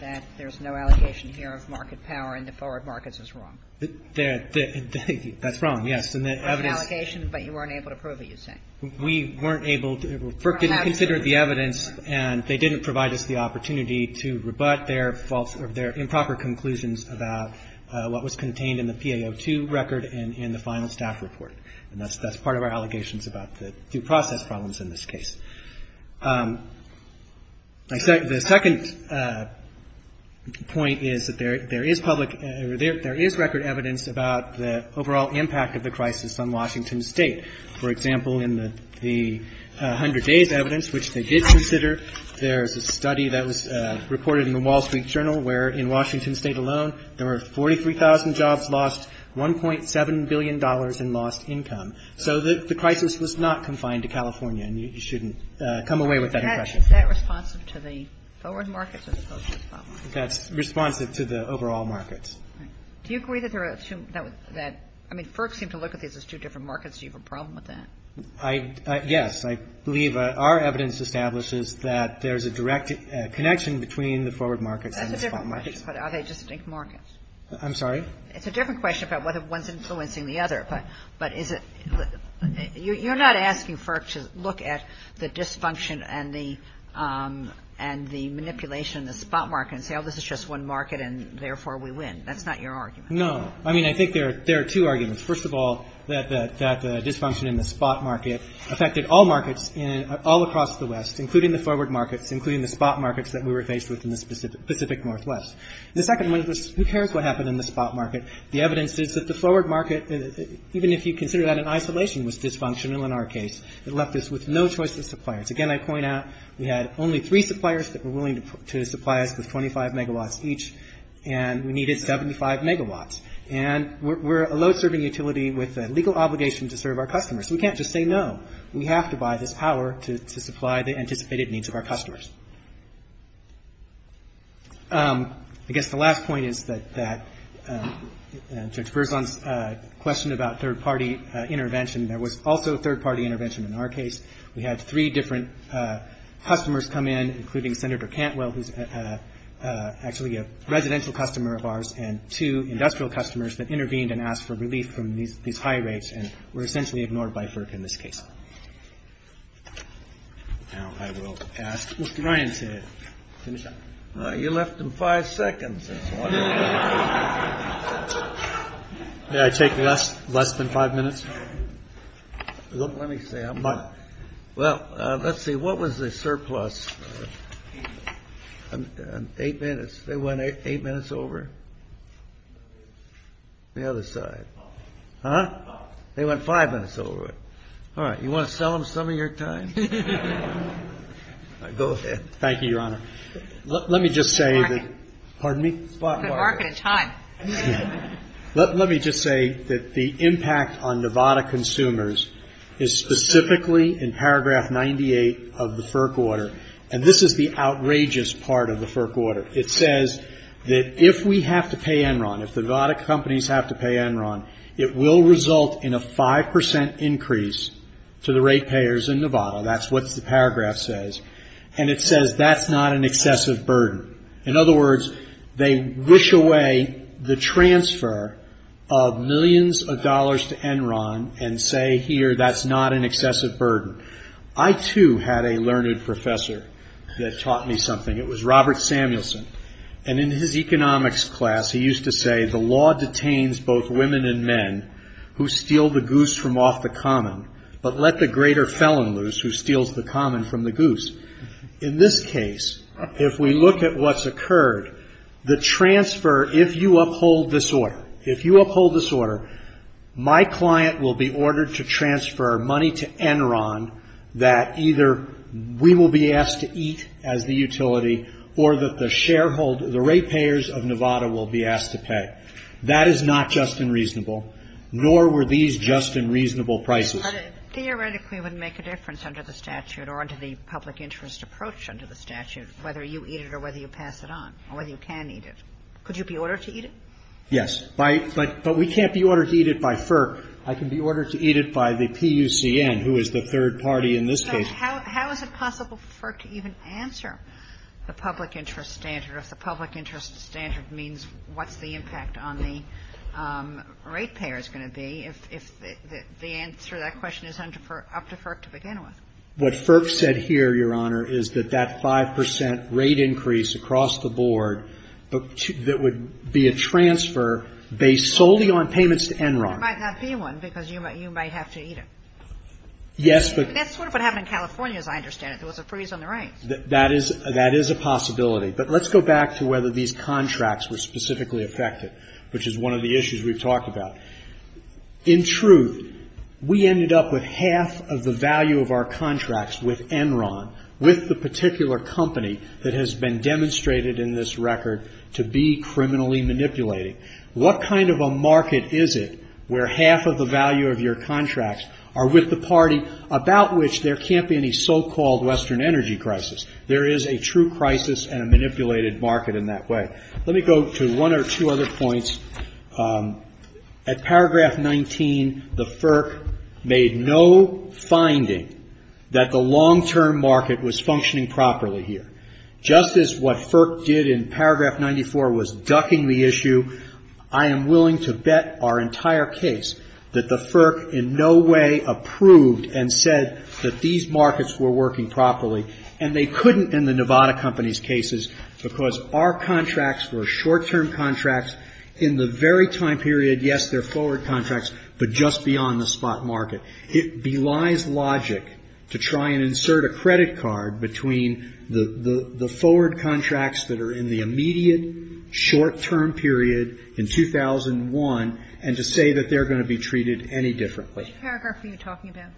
that there's no allocation here of market power in the forward markets is wrong? That's wrong, yes. There were allocations, but you weren't able to prove it, you're saying? We weren't able to. FERC didn't consider the evidence, and they didn't provide us the opportunity to rebut their improper conclusions about what was contained in the PAO2 record and in the final staff report, and that's part of our allegations about the due process problems in this case. The second point is that there is record evidence about the overall impact of the crisis on Washington State. For example, in the 100 days evidence, which they did consider, there's a study that was reported in the Wall Street Journal where, in Washington State alone, there were 43,000 jobs lost, $1.7 billion in lost income. So the crisis was not confined to California, and you shouldn't come away with that impression. Is that responsive to the forward markets as opposed to the forward markets? That's responsive to the overall markets. Do you agree that there shouldn't be that? I mean, FERC seems to look at these as two different markets. Do you have a problem with that? Yes, I believe our evidence establishes that there's a direct connection between the forward markets and the forward markets. That's a different question, but are they distinct markets? I'm sorry? It's a different question about whether one's influencing the other, but you're not asking FERC to look at the dysfunction and the manipulation in the spot market and say, oh, this is just one market and, therefore, we win. That's not your argument. No. I mean, I think there are two arguments. First of all, that the dysfunction in the spot market affected all markets all across the West, including the forward markets, including the spot markets that we were faced with in the Pacific Northwest. The second one is, who cares what happened in the spot market? The evidence is that the forward market, even if you consider that in isolation, was dysfunctional in our case. It left us with no choice of suppliers. Again, I point out we had only three suppliers that were willing to supply us with 25 megawatts each, and we needed 75 megawatts, and we're a load-serving utility with a legal obligation to serve our customers. We can't just say no. We have to buy this power to supply the anticipated needs of our customers. I guess the last point is that, in terms of Berglund's question about third-party intervention, there was also third-party intervention in our case. We had three different customers come in, including Senator Cantwell, who's actually a residential customer of ours, and two industrial customers that intervened and asked for relief from these high rates and were essentially ignored by FERC in this case. Now I will ask Mr. Ryan to finish up. You're left in five seconds. Did I take less than five minutes? Let me see. Well, let's see. What was the surplus? Eight minutes. They went eight minutes over? The other side. Huh? They went five minutes over. All right. You want to sell them some of your time? Go ahead. Thank you, Your Honor. Let me just say that the impact on Nevada consumers is specifically in paragraph 98 of the FERC order, and this is the outrageous part of the FERC order. It says that if we have to pay Enron, if Nevada companies have to pay Enron, it will result in a 5% increase to the rate payers in Nevada. That's what the paragraph says. And it says that's not an excessive burden. In other words, they wish away the transfer of millions of dollars to Enron and say, here, that's not an excessive burden. I, too, had a learned professor that taught me something. It was Robert Samuelson. And in his economics class, he used to say, the law detains both women and men who steal the goose from off the common, but let the greater felon loose who steals the common from the goose. In this case, if we look at what's occurred, the transfer, if you uphold this order, my client will be ordered to transfer money to Enron that either we will be asked to eat as the utility or that the rate payers of Nevada will be asked to pay. That is not just and reasonable, nor were these just and reasonable prices. But it theoretically would make a difference under the statute or under the public interest approach under the statute, whether you eat it or whether you pass it on, or whether you can eat it. Could you be ordered to eat it? Yes. But we can't be ordered to eat it by FERC. I can be ordered to eat it by the PUCN, who is the third party in this case. How is it possible for FERC to even answer the public interest standard if the public interest standard means what the impact on the rate payer is going to be if the answer to that question is up to FERC to begin with? What FERC said here, Your Honor, is that that 5% rate increase across the board that would be a transfer based solely on payments to Enron. It might not be one because you might have to eat it. That's sort of what happened in California, as I understand it. There was a freeze on the rate. That is a possibility. But let's go back to whether these contracts were specifically affected, which is one of the issues we've talked about. In truth, we ended up with half of the value of our contracts with Enron, with the particular company that has been demonstrated in this record to be criminally manipulated. What kind of a market is it where half of the value of your contracts are with the party about which there can't be any so-called Western energy crisis? There is a true crisis and a manipulated market in that way. Let me go to one or two other points. At paragraph 19, the FERC made no finding that the long-term market was functioning properly here. Just as what FERC did in paragraph 94 was ducking the issue, I am willing to bet our entire case that the FERC in no way approved and said that these markets were working properly. And they couldn't in the Nevada Company's cases because our contracts were short-term contracts. In the very time period, yes, they're forward contracts, but just beyond the spot market. It belies logic to try and insert a credit card between the forward contracts that are in the immediate short-term period in 2001 and to say that they're going to be treated any differently. Which paragraph are you talking about?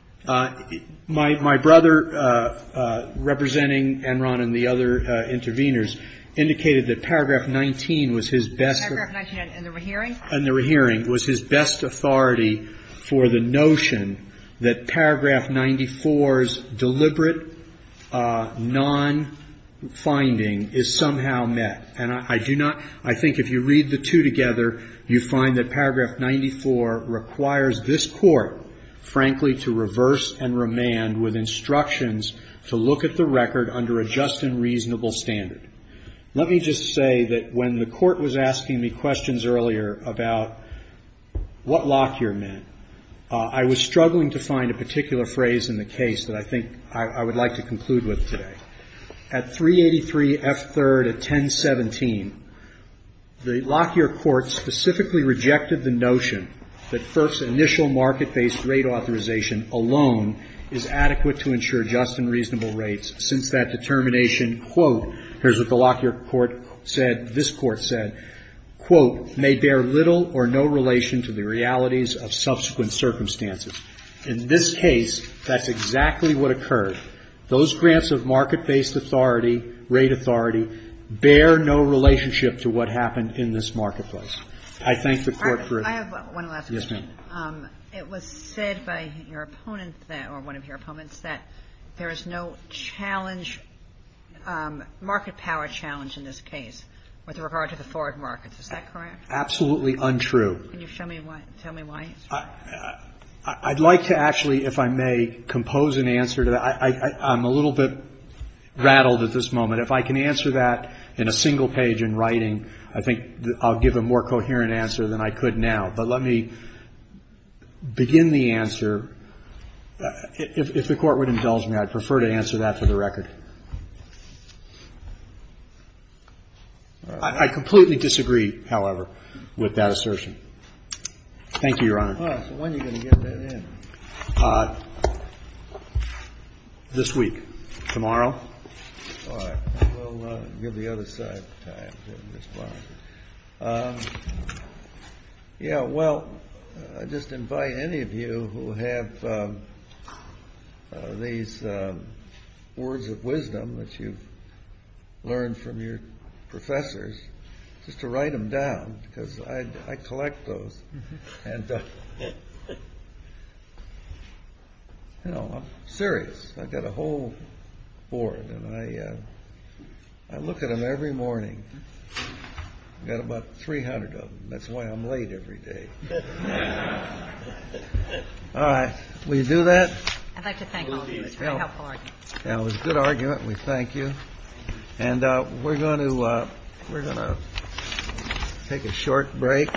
My brother, representing Enron and the other interveners, indicated that paragraph 19 was his best... Paragraph 19 in the rehearing? In the rehearing was his best authority for the notion that paragraph 94's deliberate non-finding is somehow met. And I do not... I think if you read the two together, you find that paragraph 94 requires this court, frankly, to reverse and remand with instructions to look at the record under a just and reasonable standard. Let me just say that when the court was asking me questions earlier about what Lockyer meant, I was struggling to find a particular phrase in the case that I think I would like to conclude with today. At 383 F. 3rd of 1017, the Lockyer court specifically rejected the notion that FERC's initial market-based rate authorization alone is adequate to ensure just and reasonable rates since that determination, quote, here's what the Lockyer court said, this court said, quote, may bear little or no relation to the realities of subsequent circumstances. In this case, that's exactly what occurred. Those grants of market-based authority, rate authority, bear no relationship to what happened in this marketplace. I thank the court for... I have one last thing. Yes, ma'am. It was said by your opponent, or one of your opponents, that there is no challenge, market power challenge in this case with regard to the foreign markets. Is that correct? Absolutely untrue. Can you tell me why? I'd like to actually, if I may, compose an answer to that. I'm a little bit rattled at this moment. If I can answer that in a single page in writing, I think I'll give a more coherent answer than I could now. But let me begin the answer. If the court would indulge me, I'd prefer to answer that for the record. I completely disagree, however, with that assertion. Thank you, Your Honor. All right. So when are you going to get that in? This week. Tomorrow. All right. We'll give the other side time to respond. that you learned from your professors, just to write them down, because I collect those. And, you know, I'm serious. I've got a whole board, and I look at them every morning. I've got about 300 of them. That's why I'm late every day. All right. Will you do that? I'd like to thank all of you for your help. That was a good argument. We thank you. And we're going to take a short break.